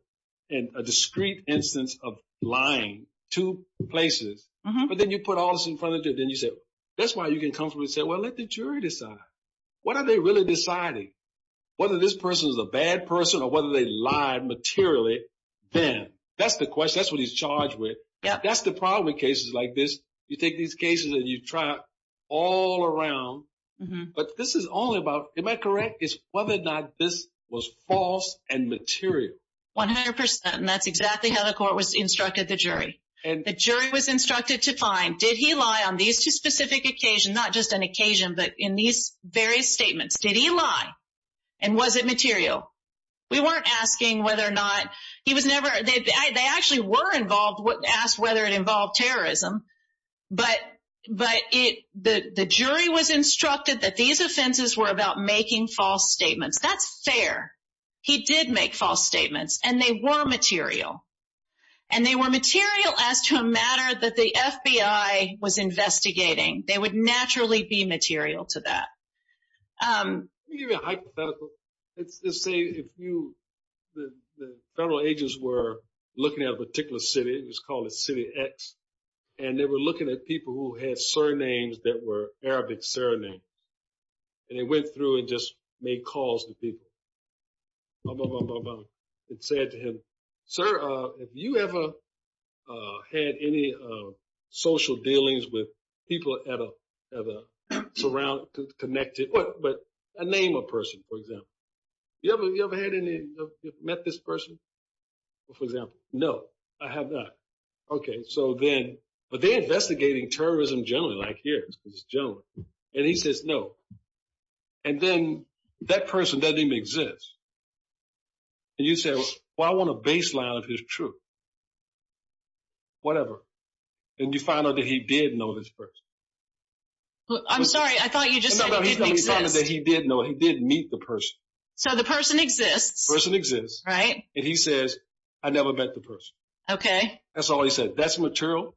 a discrete instance of lying two places. But then you put all this in front of the judge. And then you said, that's why you can comfortably say, well, let the jury decide. What are they really deciding? Whether this person is a bad person or whether they lied materially then. That's the question. That's what he's charged with. That's the problem with cases like this. You take these cases and you try all around. But this is only about – am I correct? It's whether or not this was false and material. 100 percent, and that's exactly how the court was instructed the jury. The jury was instructed to find, did he lie on these two specific occasions, not just an occasion, but in these various statements. Did he lie? And was it material? We weren't asking whether or not – he was never – they actually were involved – asked whether it involved terrorism. But the jury was instructed that these offenses were about making false statements. That's fair. He did make false statements, and they were material. And they were material as to a matter that the FBI was investigating. They would naturally be material to that. Let me give you a hypothetical. Let's say if you – the federal agents were looking at a particular city. It was called City X. And they were looking at people who had surnames that were Arabic surnames. And they went through and just made calls to people. And said to him, sir, have you ever had any social dealings with people that are connected, but a name of a person, for example. Have you ever met this person, for example? No, I have not. Okay, so then – but they're investigating terrorism generally, like here, because it's generally. And he says no. And then that person doesn't even exist. And you say, well, I want a baseline of his truth. Whatever. And you find out that he did know this person. I'm sorry. I thought you just said he didn't exist. He did know. He did meet the person. So the person exists. The person exists. Right. And he says, I never met the person. Okay. That's all he said. That's material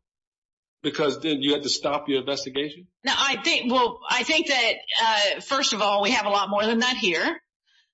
because then you had to stop your investigation? Well, I think that, first of all, we have a lot more than that here.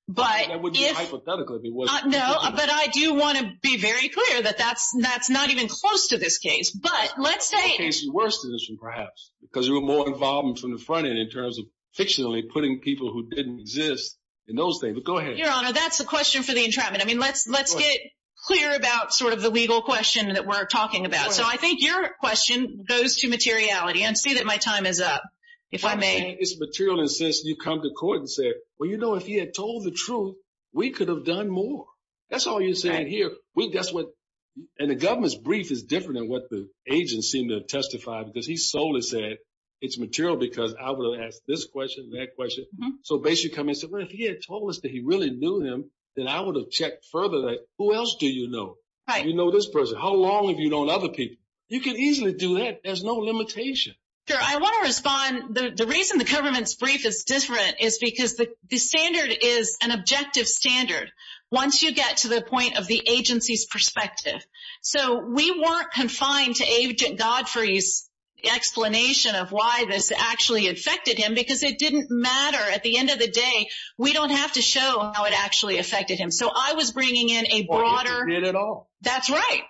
That wouldn't be hypothetical if it wasn't. No, but I do want to be very clear that that's not even close to this case. But let's say – It's worse than this one, perhaps, because you're more involved from the front end in terms of fictionally putting people who didn't exist in those things. But go ahead. Your Honor, that's a question for the entrapment. I mean, let's get clear about sort of the legal question that we're talking about. So I think your question goes to materiality. And see that my time is up. If I may. It's material. And since you come to court and said, well, you know, if he had told the truth, we could have done more. That's all you're saying here. And the government's brief is different than what the agents seem to have testified because he solely said it's material because I would have asked this question and that question. So basically come in and said, well, if he had told us that he really knew him, then I would have checked further. Who else do you know? You know this person. How long have you known other people? You can easily do that. There's no limitation. Sure. I want to respond. The reason the government's brief is different is because the standard is an objective standard. Once you get to the point of the agency's perspective. So we weren't confined to Agent Godfrey's explanation of why this actually affected him because it didn't matter. At the end of the day, we don't have to show how it actually affected him. So I was bringing in a broader. Did at all. That's right.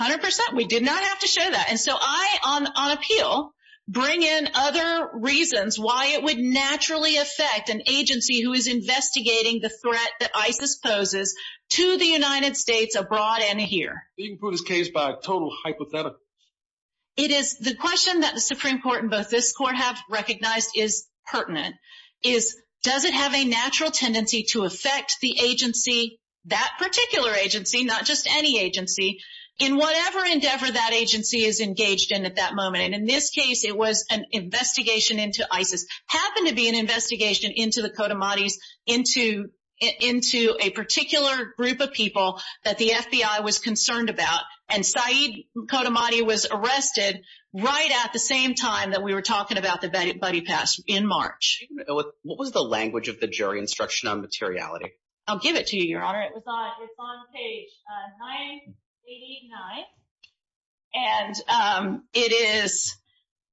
100%. We did not have to show that. And so I, on appeal, bring in other reasons why it would naturally affect an agency who is investigating the threat that ISIS poses to the United States abroad and here. You can prove this case by a total hypothetical. It is. The question that the Supreme Court and both this court have recognized is pertinent is does it have a natural tendency to affect the agency, that particular agency, not just any agency, in whatever endeavor that agency is engaged in at that moment. And in this case, it was an investigation into ISIS. Happened to be an investigation into the Kodamates, into a particular group of people that the FBI was concerned about. And Saeed Kodamate was arrested right at the same time that we were talking about the Buddy Pass in March. What was the language of the jury instruction on materiality? I'll give it to you, Your Honor. It was on page 989. And it is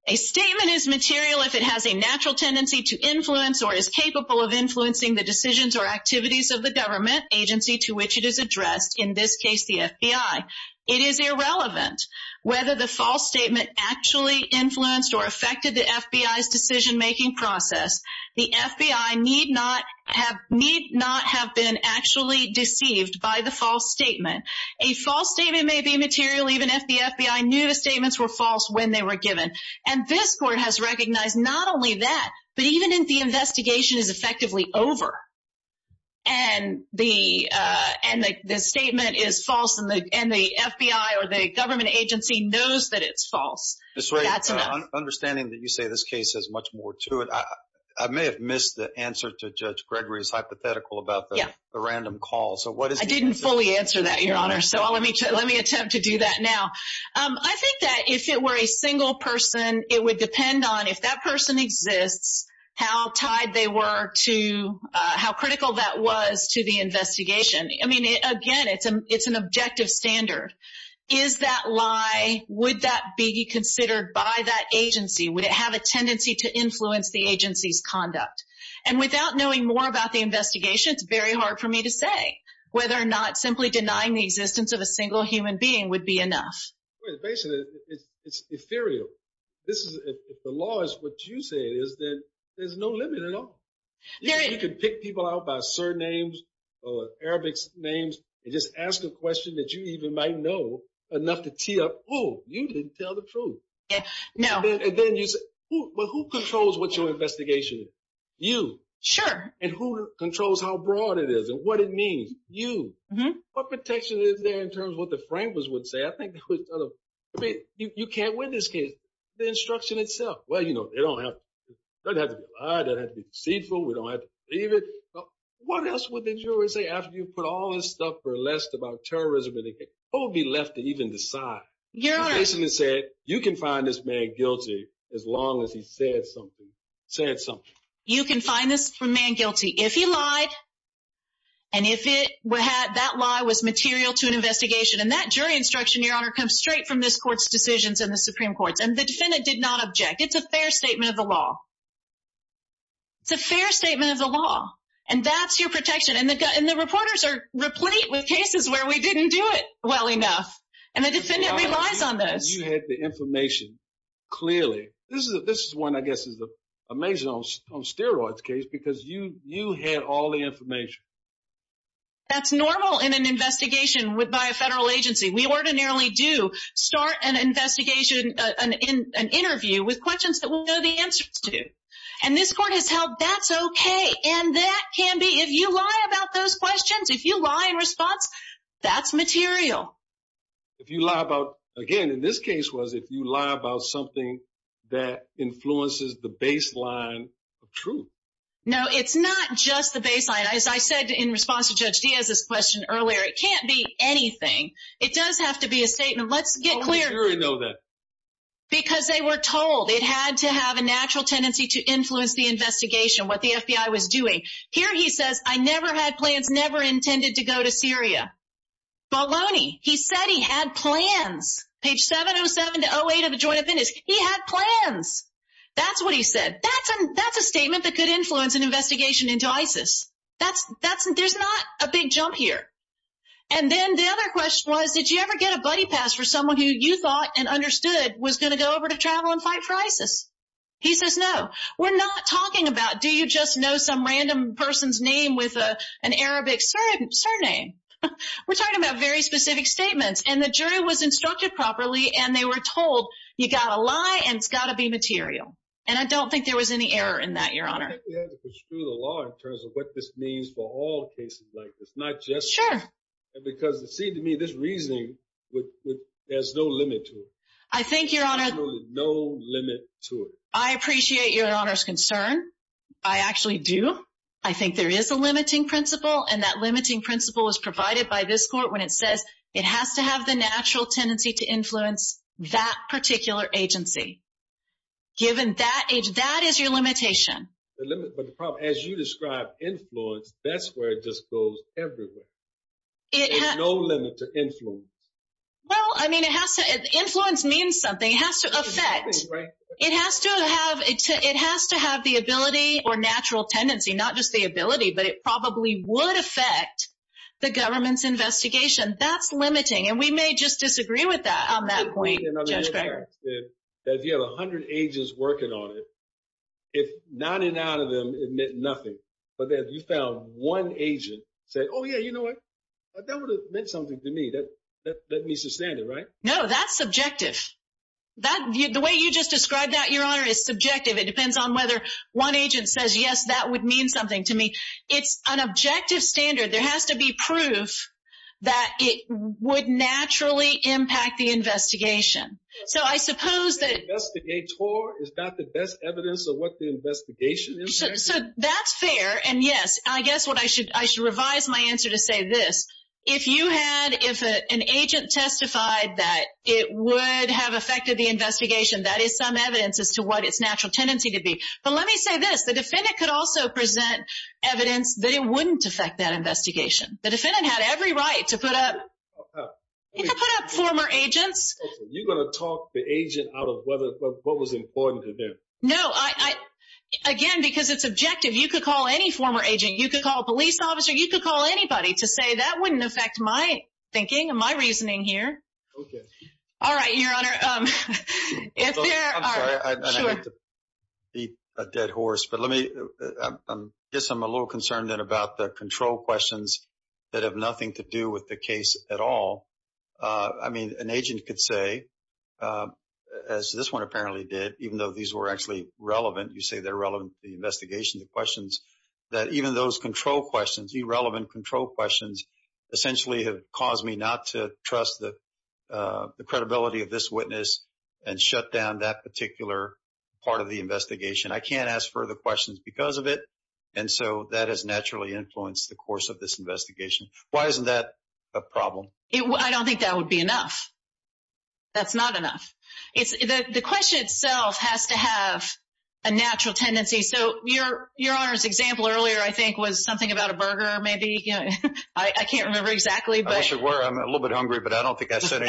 a statement is material if it has a natural tendency to influence or is capable of influencing the decisions or activities of the government agency to which it is addressed, in this case the FBI. It is irrelevant whether the false statement actually influenced or affected the FBI's decision-making process. The FBI need not have been actually deceived by the false statement. A false statement may be material even if the FBI knew the statements were false when they were given. And this court has recognized not only that, but even if the investigation is effectively over and the statement is false and the FBI or the government agency knows that it's false, that's enough. Understanding that you say this case has much more to it, I may have missed the answer to Judge Gregory's hypothetical about the random call. I didn't fully answer that, Your Honor, so let me attempt to do that now. I think that if it were a single person, it would depend on if that person exists, how tied they were to how critical that was to the investigation. I mean, again, it's an objective standard. Is that lie, would that be considered by that agency? Would it have a tendency to influence the agency's conduct? And without knowing more about the investigation, it's very hard for me to say whether or not simply denying the existence of a single human being would be enough. Basically, it's ethereal. If the law is what you say it is, then there's no limit at all. You could pick people out by surnames or Arabic names and just ask a question that you even might know enough to tee up, oh, you didn't tell the truth. And then you say, well, who controls what your investigation is? You. Sure. And who controls how broad it is and what it means? You. What protection is there in terms of what the framers would say? I think you can't win this case. The instruction itself. Well, you know, it doesn't have to be a lie. It doesn't have to be deceitful. We don't have to believe it. What else would the juror say after you put all this stuff for less about terrorism in the case? Who would be left to even decide? Your Honor. You can find this man guilty as long as he said something. Said something. You can find this man guilty if he lied and if that lie was material to an investigation. And that jury instruction, Your Honor, comes straight from this Court's decisions in the Supreme Court. And the defendant did not object. It's a fair statement of the law. It's a fair statement of the law. And that's your protection. And the reporters are replete with cases where we didn't do it well enough. And the defendant relies on this. You had the information clearly. This is one, I guess, is amazing on steroids case because you had all the information. That's normal in an investigation by a federal agency. We ordinarily do start an investigation, an interview with questions that we know the answers to. And this Court has held that's okay. And that can be if you lie about those questions, if you lie in response, that's material. If you lie about, again, in this case was if you lie about something that influences the baseline of truth. No, it's not just the baseline. As I said in response to Judge Diaz's question earlier, it can't be anything. It does have to be a statement. Let's get clear. Because they were told it had to have a natural tendency to influence the investigation. What the FBI was doing here. He says, I never had plans. Never intended to go to Syria. Baloney. He said he had plans. Page 707 to 08 of the joint appendix. He had plans. That's what he said. That's a, that's a statement that could influence an investigation into ISIS. That's that's there's not a big jump here. And then the other question was, did you ever get a buddy pass for someone who you thought and understood was going to go over to travel and fight for ISIS? He says, no, we're not talking about, do you just know some random person's name with an Arabic surname? We're talking about very specific statements and the jury was instructed properly and they were told you got a lie and it's got to be material. And I don't think there was any error in that. Your honor. Screw the law in terms of what this means for all cases like this, not just. Sure. Because it seemed to me this reasoning would, there's no limit to it. I think your honor. No limit to it. I appreciate your honor's concern. I actually do. I think there is a limiting principle and that limiting principle is provided by this court. When it says it has to have the natural tendency to influence that particular agency. Given that age, that is your limitation. The limit, but the problem, as you described influence, that's where it just goes everywhere. There's no limit to influence. Well, I mean, it has to, influence means something. It has to affect. It has to have, it has to have the ability or natural tendency, not just the ability, but it probably would affect the government's investigation. That's limiting. And we may just disagree with that on that point. Judge Greger. That you have a hundred agents working on it. If not in and out of them admit nothing. But then you found one agent say, oh yeah, you know what? That would have meant something to me. That, that, that means the standard, right? No, that's subjective. That the way you just described that your honor is subjective. It depends on whether one agent says, yes, that would mean something to me. It's an objective standard. There has to be proof that it would naturally impact the investigation. So I suppose that. Is that the best evidence of what the investigation is? So that's fair. And yes, I guess what I should, I should revise my answer to say this. If you had, if an agent testified that it would have affected the investigation, that is some evidence as to what its natural tendency to be. But let me say this, the defendant could also present evidence that it wouldn't affect that investigation. The defendant had every right to put up. You can put up former agents. You're going to talk the agent out of whether what was important to them. No, I, again, because it's objective. You could call any former agent. You could call a police officer. You could call anybody to say that wouldn't affect my thinking and my reasoning here. Okay. All right. Your honor. A dead horse, but let me, I guess I'm a little concerned that about the control questions that have nothing to do with the case at all. I mean, an agent could say. As this one apparently did, even though these were actually relevant, you say they're relevant to the investigation, the questions. That even those control questions, irrelevant control questions. Essentially have caused me not to trust the, uh, the credibility of this witness and shut down that particular part of the investigation. I can't ask further questions because of it. And so that has naturally influenced the course of this investigation. Why isn't that a problem? I don't think that would be enough. That's not enough. It's the question itself has to have a natural tendency. So your, your honor's example earlier, I think was something about a burger. Maybe I can't remember exactly, but I'm a little bit hungry, but I don't think I said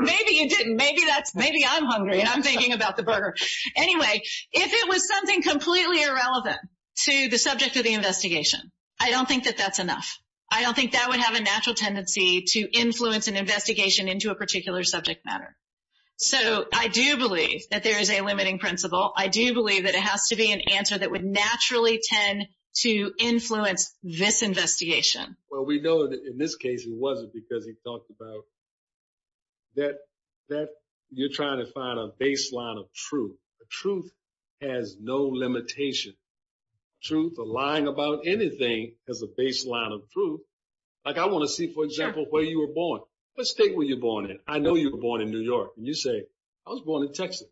maybe you didn't. Maybe that's maybe I'm hungry and I'm thinking about the burger anyway, if it was something completely irrelevant to the subject of the investigation, I don't think that that's enough. I don't think that would have a natural tendency to influence an investigation into a particular subject matter. So I do believe that there is a limiting principle. I do believe that it has to be an answer that would naturally tend to influence this investigation. Well, we know that in this case, it wasn't because he talked about that, that you're trying to find a baseline of truth. The truth has no limitation. Truth or lying about anything as a baseline of truth. Like I want to see, for example, where you were born. What state were you born in? I know you were born in New York and you say I was born in Texas.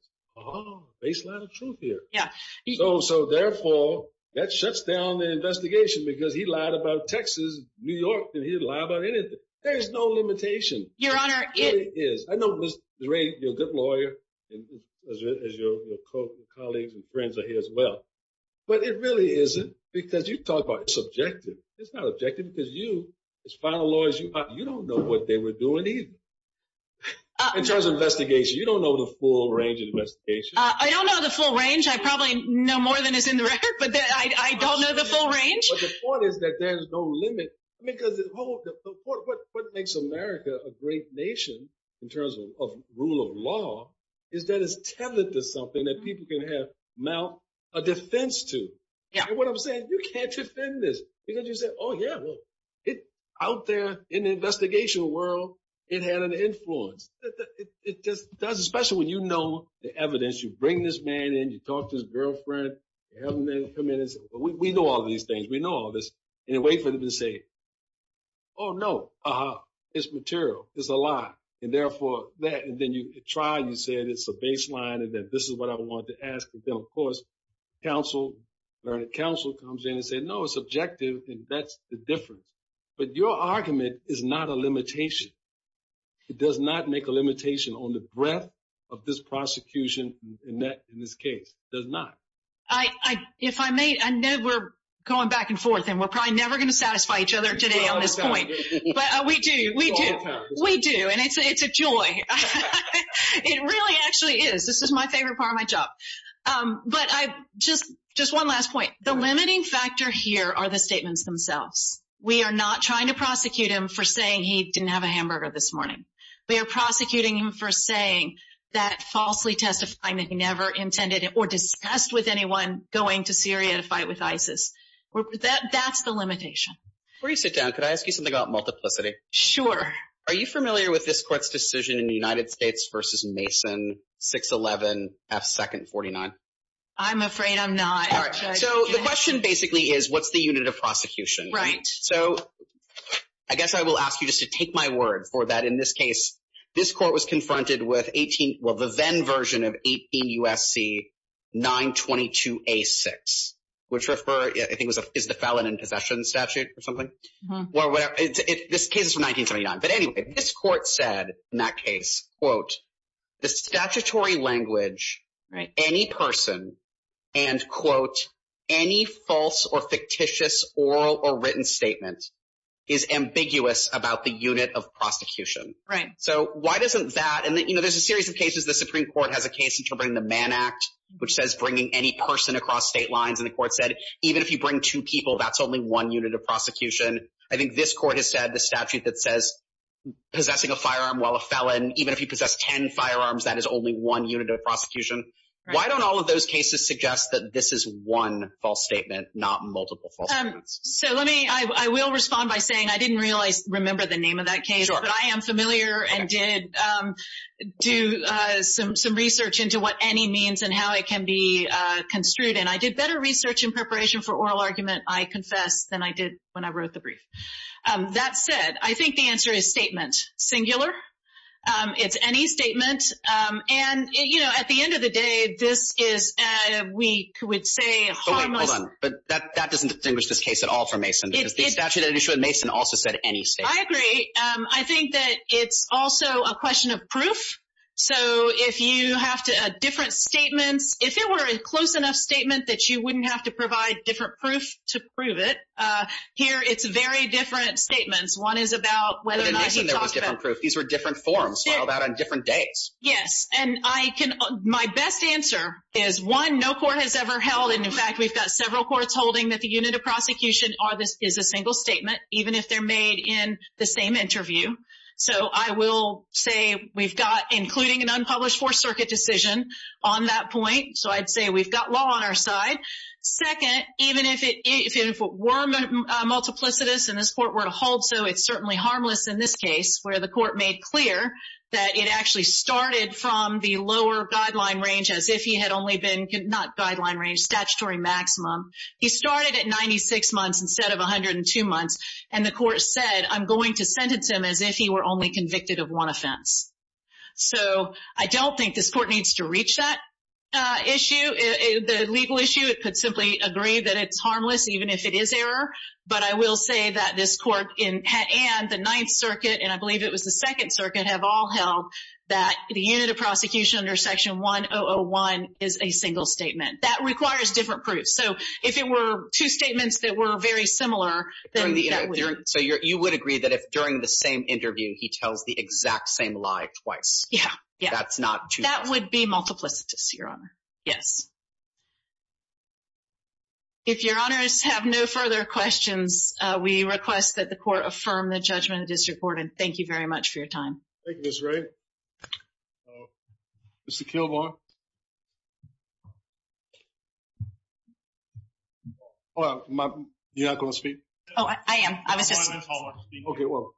Baseline of truth here. Yeah. So therefore that shuts down the investigation because he lied about Texas, New York, and he didn't lie about anything. There's no limitation. Your Honor. I know Ms. Ray, you're a good lawyer as your colleagues and friends are here as well, but it really isn't because you talk about subjective. It's not objective because you as final lawyers, you don't know what they were doing either. In terms of investigation. You don't know the full range of investigation. I don't know the full range. I probably know more than is in the record, but I don't know the full range. But the point is that there's no limit. Because what makes America a great nation in terms of rule of law is that it's tethered to something that people can have a defense to. And what I'm saying, you can't defend this. Because you say, oh, yeah, well, out there in the investigation world, it had an influence. It does, especially when you know the evidence. You bring this man in, you talk to his girlfriend, you have him come in and say, well, we know all these things. We know all this. And you wait for them to say, oh, no, uh-huh, it's material. It's a lie. And therefore that. And then you try and you say that it's a baseline and that this is what I wanted to ask. And then, of course, counsel comes in and say, no, it's objective. And that's the difference. But your argument is not a limitation. It does not make a limitation on the breadth of this prosecution in this case. It does not. If I may, I know we're going back and forth, and we're probably never going to satisfy each other today on this point. But we do. We do. We do. And it's a joy. It really actually is. This is my favorite part of my job. But just one last point. The limiting factor here are the statements themselves. We are not trying to prosecute him for saying he didn't have a hamburger this morning. We are prosecuting him for saying that falsely testifying that he never intended or discussed with anyone going to Syria to fight with ISIS. That's the limitation. Before you sit down, could I ask you something about multiplicity? Sure. Are you familiar with this court's decision in the United States versus Mason, 6-11, F-2nd 49? I'm afraid I'm not. So the question basically is, what's the unit of prosecution? Right. So I guess I will ask you just to take my word for that in this case. This court was confronted with the then version of 18 U.S.C. 922-A-6, which I think is the Felon in Possession Statute or something. This case is from 1979. But anyway, this court said in that case, quote, the statutory language, any person, and, quote, any false or fictitious oral or written statement is ambiguous about the unit of prosecution. Right. So why doesn't that – and, you know, there's a series of cases. The Supreme Court has a case interpreting the Mann Act, which says bringing any person across state lines. And the court said even if you bring two people, that's only one unit of prosecution. I think this court has said the statute that says possessing a firearm while a felon, even if he possessed ten firearms, that is only one unit of prosecution. Right. Why don't all of those cases suggest that this is one false statement, not multiple false statements? So let me – I will respond by saying I didn't realize – remember the name of that case. Sure. But I am familiar and did do some research into what any means and how it can be construed. And I did better research in preparation for oral argument, I confess, than I did when I wrote the brief. That said, I think the answer is statement. Singular. It's any statement. And, you know, at the end of the day, this is, we would say, harmless. But wait, hold on. That doesn't distinguish this case at all from Mason. The statute that you showed Mason also said any statement. I agree. I think that it's also a question of proof. So if you have different statements – if it were a close enough statement that you wouldn't have to provide different proof to prove it, here it's very different statements. One is about whether or not he talked about – But in Mason there was different proof. These were different forms filed out on different dates. Yes. And I can – my best answer is, one, no court has ever held – and, in fact, we've got several courts holding that the unit of prosecution is a single statement, even if they're made in the same interview. So I will say we've got including an unpublished Fourth Circuit decision on that point. So I'd say we've got law on our side. Second, even if it were multiplicitous and this court were to hold so, it's certainly harmless in this case where the court made clear that it actually started from the lower guideline range as if he had only been – not guideline range, statutory maximum. He started at 96 months instead of 102 months, and the court said, I'm going to sentence him as if he were only convicted of one offense. So I don't think this court needs to reach that issue, the legal issue. It could simply agree that it's harmless even if it is error. But I will say that this court and the Ninth Circuit, and I believe it was the Second Circuit, have all held that the unit of prosecution under Section 1001 is a single statement. That requires different proofs. So if it were two statements that were very similar, then that would – So you would agree that if during the same interview he tells the exact same lie twice. Yeah, yeah. That's not – That would be multiplicitous, Your Honor. Yes. If Your Honors have no further questions, we request that the court affirm the judgment of the district court, and thank you very much for your time. Thank you, Ms. Wray. Mr. Kilbourne? You're not going to speak? Oh, I am. I was just – Okay, well,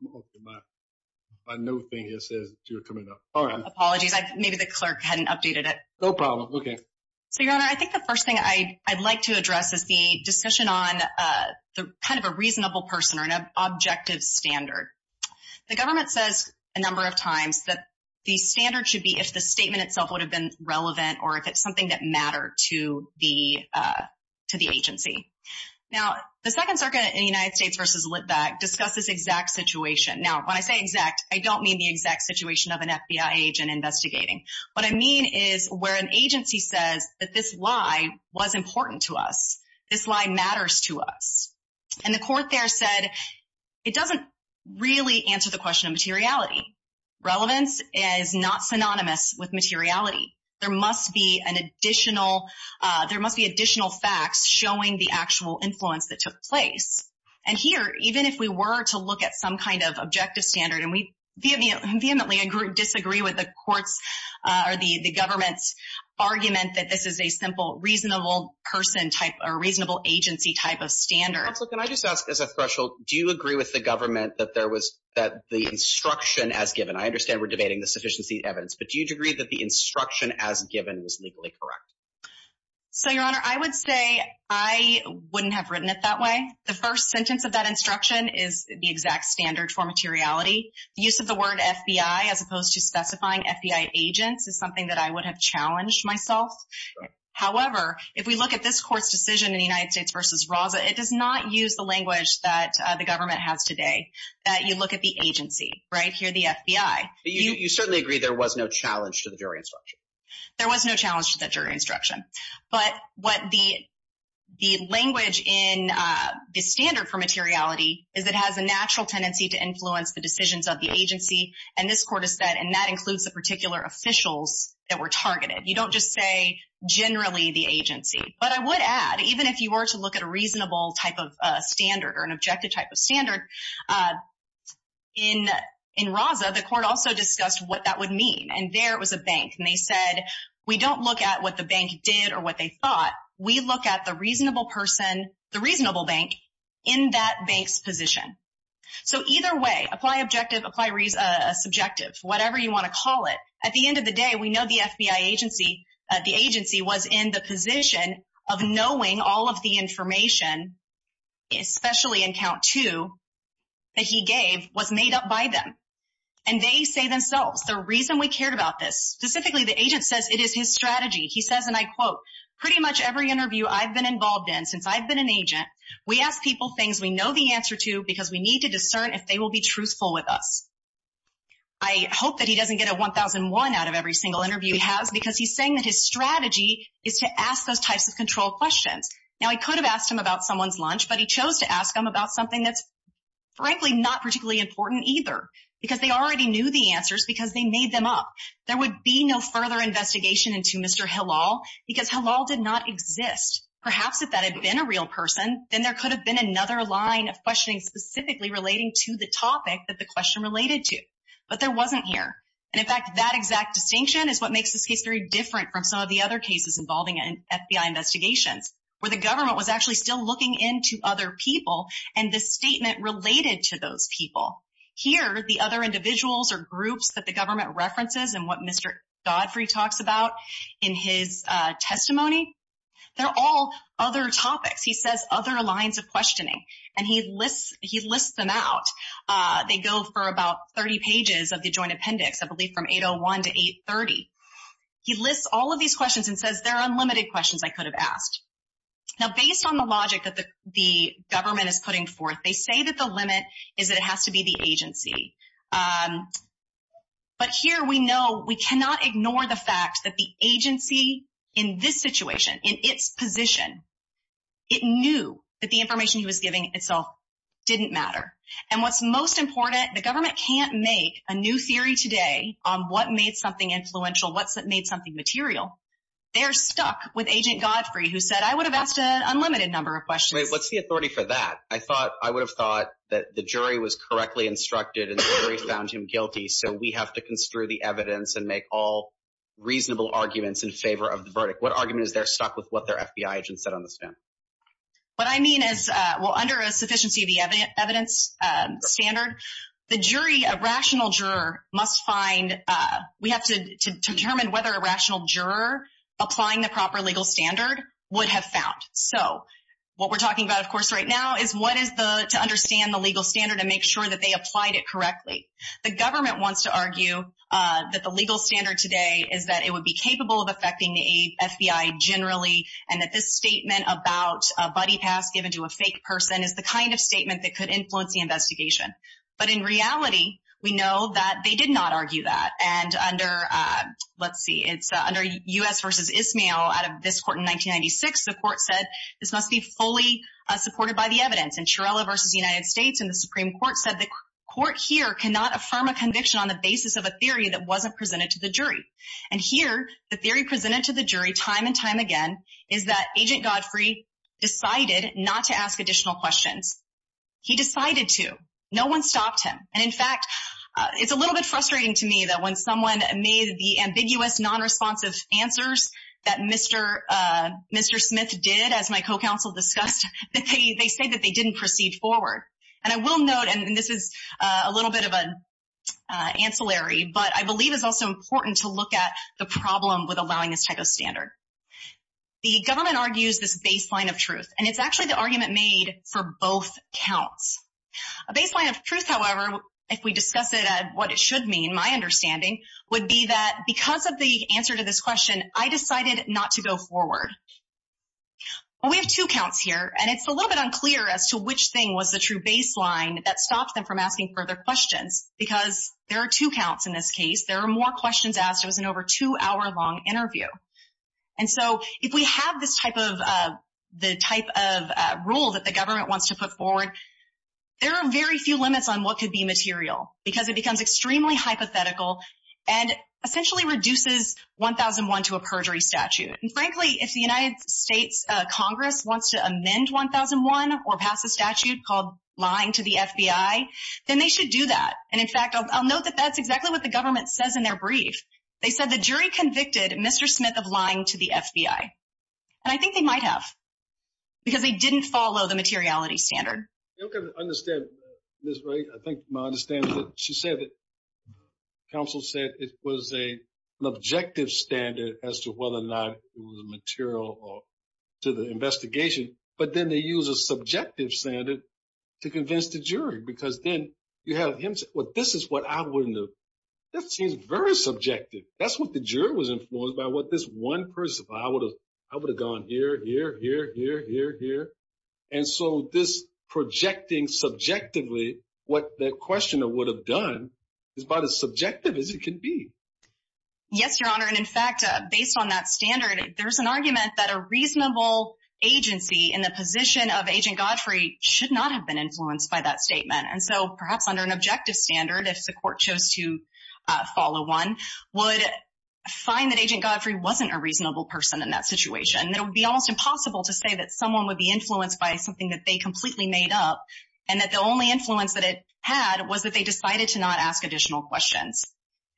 my new thing here says you're coming up. Apologies. Maybe the clerk hadn't updated it. No problem. Okay. So, Your Honor, I think the first thing I'd like to address is the discussion on kind of a reasonable person or an objective standard. The government says a number of times that the standard should be if the statement itself would have been relevant or if it's something that mattered to the agency. Now, the Second Circuit in the United States v. Litvak discussed this exact situation. Now, when I say exact, I don't mean the exact situation of an FBI agent investigating. What I mean is where an agency says that this lie was important to us, this lie matters to us. And the court there said it doesn't really answer the question of materiality. Relevance is not synonymous with materiality. There must be an additional – there must be additional facts showing the actual influence that took place. And here, even if we were to look at some kind of objective standard, and we vehemently disagree with the courts or the government's argument that this is a simple reasonable person type or reasonable agency type of standard. Counsel, can I just ask as a threshold, do you agree with the government that the instruction as given – I understand we're debating the sufficiency of evidence, but do you agree that the instruction as given was legally correct? So, Your Honor, I would say I wouldn't have written it that way. The first sentence of that instruction is the exact standard for materiality. The use of the word FBI as opposed to specifying FBI agents is something that I would have challenged myself. However, if we look at this court's decision in the United States v. Raza, it does not use the language that the government has today, that you look at the agency, right, here the FBI. You certainly agree there was no challenge to the jury instruction. There was no challenge to the jury instruction. But what the language in the standard for materiality is it has a natural tendency to influence the decisions of the agency, and this court has said, and that includes the particular officials that were targeted. You don't just say generally the agency. But I would add, even if you were to look at a reasonable type of standard or an objective type of standard, in Raza, the court also discussed what that would mean, and there it was a bank. And they said, we don't look at what the bank did or what they thought. We look at the reasonable person, the reasonable bank, in that bank's position. So either way, apply objective, apply subjective, whatever you want to call it, at the end of the day, we know the FBI agency, the agency was in the position of knowing all of the information, especially in count two, that he gave was made up by them. And they say themselves, the reason we cared about this, specifically the agent says it is his strategy. He says, and I quote, pretty much every interview I've been involved in since I've been an agent, we ask people things we know the answer to because we need to discern if they will be truthful with us. I hope that he doesn't get a 1,001 out of every single interview he has because he's saying that his strategy is to ask those types of control questions. Now, he could have asked them about someone's lunch, but he chose to ask them about something that's, frankly, not particularly important either because they already knew the answers because they made them up. There would be no further investigation into Mr. Hillel because Hillel did not exist. Perhaps if that had been a real person, then there could have been another line of questioning specifically relating to the topic that the question related to. But there wasn't here. And, in fact, that exact distinction is what makes this case very different from some of the other cases involving FBI investigations where the government was actually still looking into other people and the statement related to those people. Here, the other individuals or groups that the government references and what Mr. Godfrey talks about in his testimony, they're all other topics. He says other lines of questioning, and he lists them out. They go for about 30 pages of the joint appendix, I believe from 801 to 830. He lists all of these questions and says there are unlimited questions I could have asked. Now, based on the logic that the government is putting forth, they say that the limit is that it has to be the agency. But here we know we cannot ignore the fact that the agency in this situation, in its position, it knew that the information he was giving itself didn't matter. And what's most important, the government can't make a new theory today on what made something influential, what made something material. They're stuck with Agent Godfrey, who said, I would have asked an unlimited number of questions. Wait, what's the authority for that? I would have thought that the jury was correctly instructed and the jury found him guilty, so we have to construe the evidence and make all reasonable arguments in favor of the verdict. What argument is there stuck with what their FBI agent said on the stand? What I mean is, well, under a sufficiency of the evidence standard, the jury, a rational juror, must find, we have to determine whether a rational juror applying the proper legal standard would have found. So what we're talking about, of course, right now is what is to understand the legal standard and make sure that they applied it correctly. The government wants to argue that the legal standard today is that it would be capable of affecting the FBI generally and that this statement about a buddy pass given to a fake person is the kind of statement that could influence the investigation. But in reality, we know that they did not argue that. And under, let's see, it's under U.S. v. Ismael out of this court in 1996, the court said this must be fully supported by the evidence. And Chiarella v. United States in the Supreme Court said the court here cannot affirm a conviction on the basis of a theory that wasn't presented to the jury. And here, the theory presented to the jury time and time again is that Agent Godfrey decided not to ask additional questions. He decided to. No one stopped him. And, in fact, it's a little bit frustrating to me that when someone made the ambiguous nonresponsive answers that Mr. Smith did, as my co-counsel discussed, that they said that they didn't proceed forward. And I will note, and this is a little bit of an ancillary, but I believe it's also important to look at the problem with allowing this type of standard. The government argues this baseline of truth. And it's actually the argument made for both counts. A baseline of truth, however, if we discuss it at what it should mean, my understanding, would be that because of the answer to this question, I decided not to go forward. Well, we have two counts here, and it's a little bit unclear as to which thing was the true baseline that stopped them from asking further questions because there are two counts in this case. There are more questions asked. It was an over two-hour long interview. And so if we have this type of rule that the government wants to put forward, there are very few limits on what could be material because it becomes extremely hypothetical and essentially reduces 1001 to a perjury statute. And, frankly, if the United States Congress wants to amend 1001 or pass a statute called lying to the FBI, then they should do that. And, in fact, I'll note that that's exactly what the government says in their brief. They said the jury convicted Mr. Smith of lying to the FBI. And I think they might have because they didn't follow the materiality standard. You don't get to understand this, right? I think my understanding is that she said that counsel said it was an objective standard as to whether or not it was material to the investigation, but then they use a subjective standard to convince the jury because then you have him say, well, this is what I wouldn't have. That seems very subjective. That's what the jury was influenced by, what this one person thought. I would have gone here, here, here, here, here, here. And so this projecting subjectively what the questioner would have done is about as subjective as it can be. Yes, Your Honor, and, in fact, based on that standard, there's an argument that a reasonable agency in the position of Agent Godfrey should not have been influenced by that statement. And so perhaps under an objective standard, if the court chose to follow one, would find that Agent Godfrey wasn't a reasonable person in that situation. It would be almost impossible to say that someone would be influenced by something that they completely made up and that the only influence that it had was that they decided to not ask additional questions.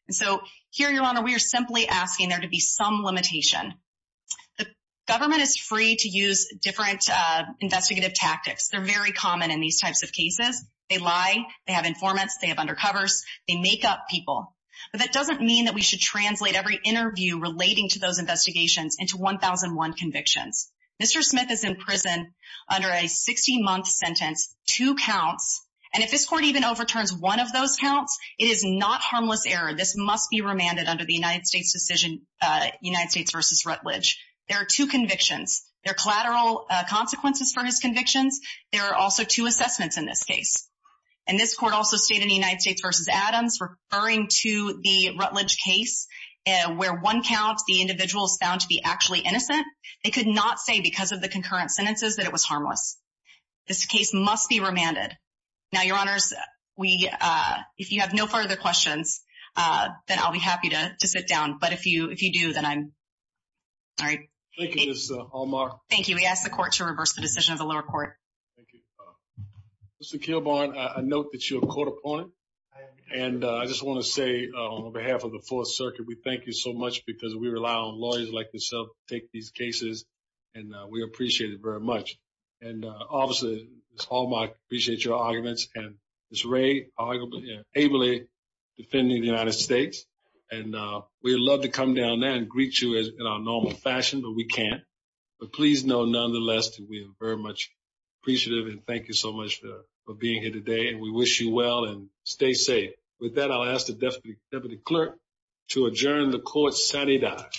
And so here, Your Honor, we are simply asking there to be some limitation. The government is free to use different investigative tactics. They're very common in these types of cases. They lie. They have informants. They have undercovers. They make up people. But that doesn't mean that we should translate every interview relating to those investigations into 1001 convictions. Mr. Smith is in prison under a 60-month sentence, two counts. And if this court even overturns one of those counts, it is not harmless error. This must be remanded under the United States decision, United States v. Rutledge. There are two convictions. There are collateral consequences for his convictions. There are also two assessments in this case. And this court also stated in the United States v. Adams, referring to the Rutledge case where one count, the individual is found to be actually innocent, they could not say because of the concurrent sentences that it was harmless. This case must be remanded. Now, Your Honors, if you have no further questions, then I'll be happy to sit down. But if you do, then I'm sorry. Thank you, Ms. Hallmark. Thank you. We ask the court to reverse the decision of the lower court. Thank you. Mr. Kilbourne, I note that you're a court opponent. And I just want to say on behalf of the Fourth Circuit, we thank you so much because we rely on lawyers like yourself to take these cases. And we appreciate it very much. And, obviously, Ms. Hallmark, I appreciate your arguments. And Ms. Ray, arguably and ably defending the United States. And we'd love to come down there and greet you in our normal fashion, but we can't. But please know, nonetheless, that we are very much appreciative. And thank you so much for being here today. And we wish you well. And stay safe. With that, I'll ask the Deputy Clerk to adjourn the court Saturday night.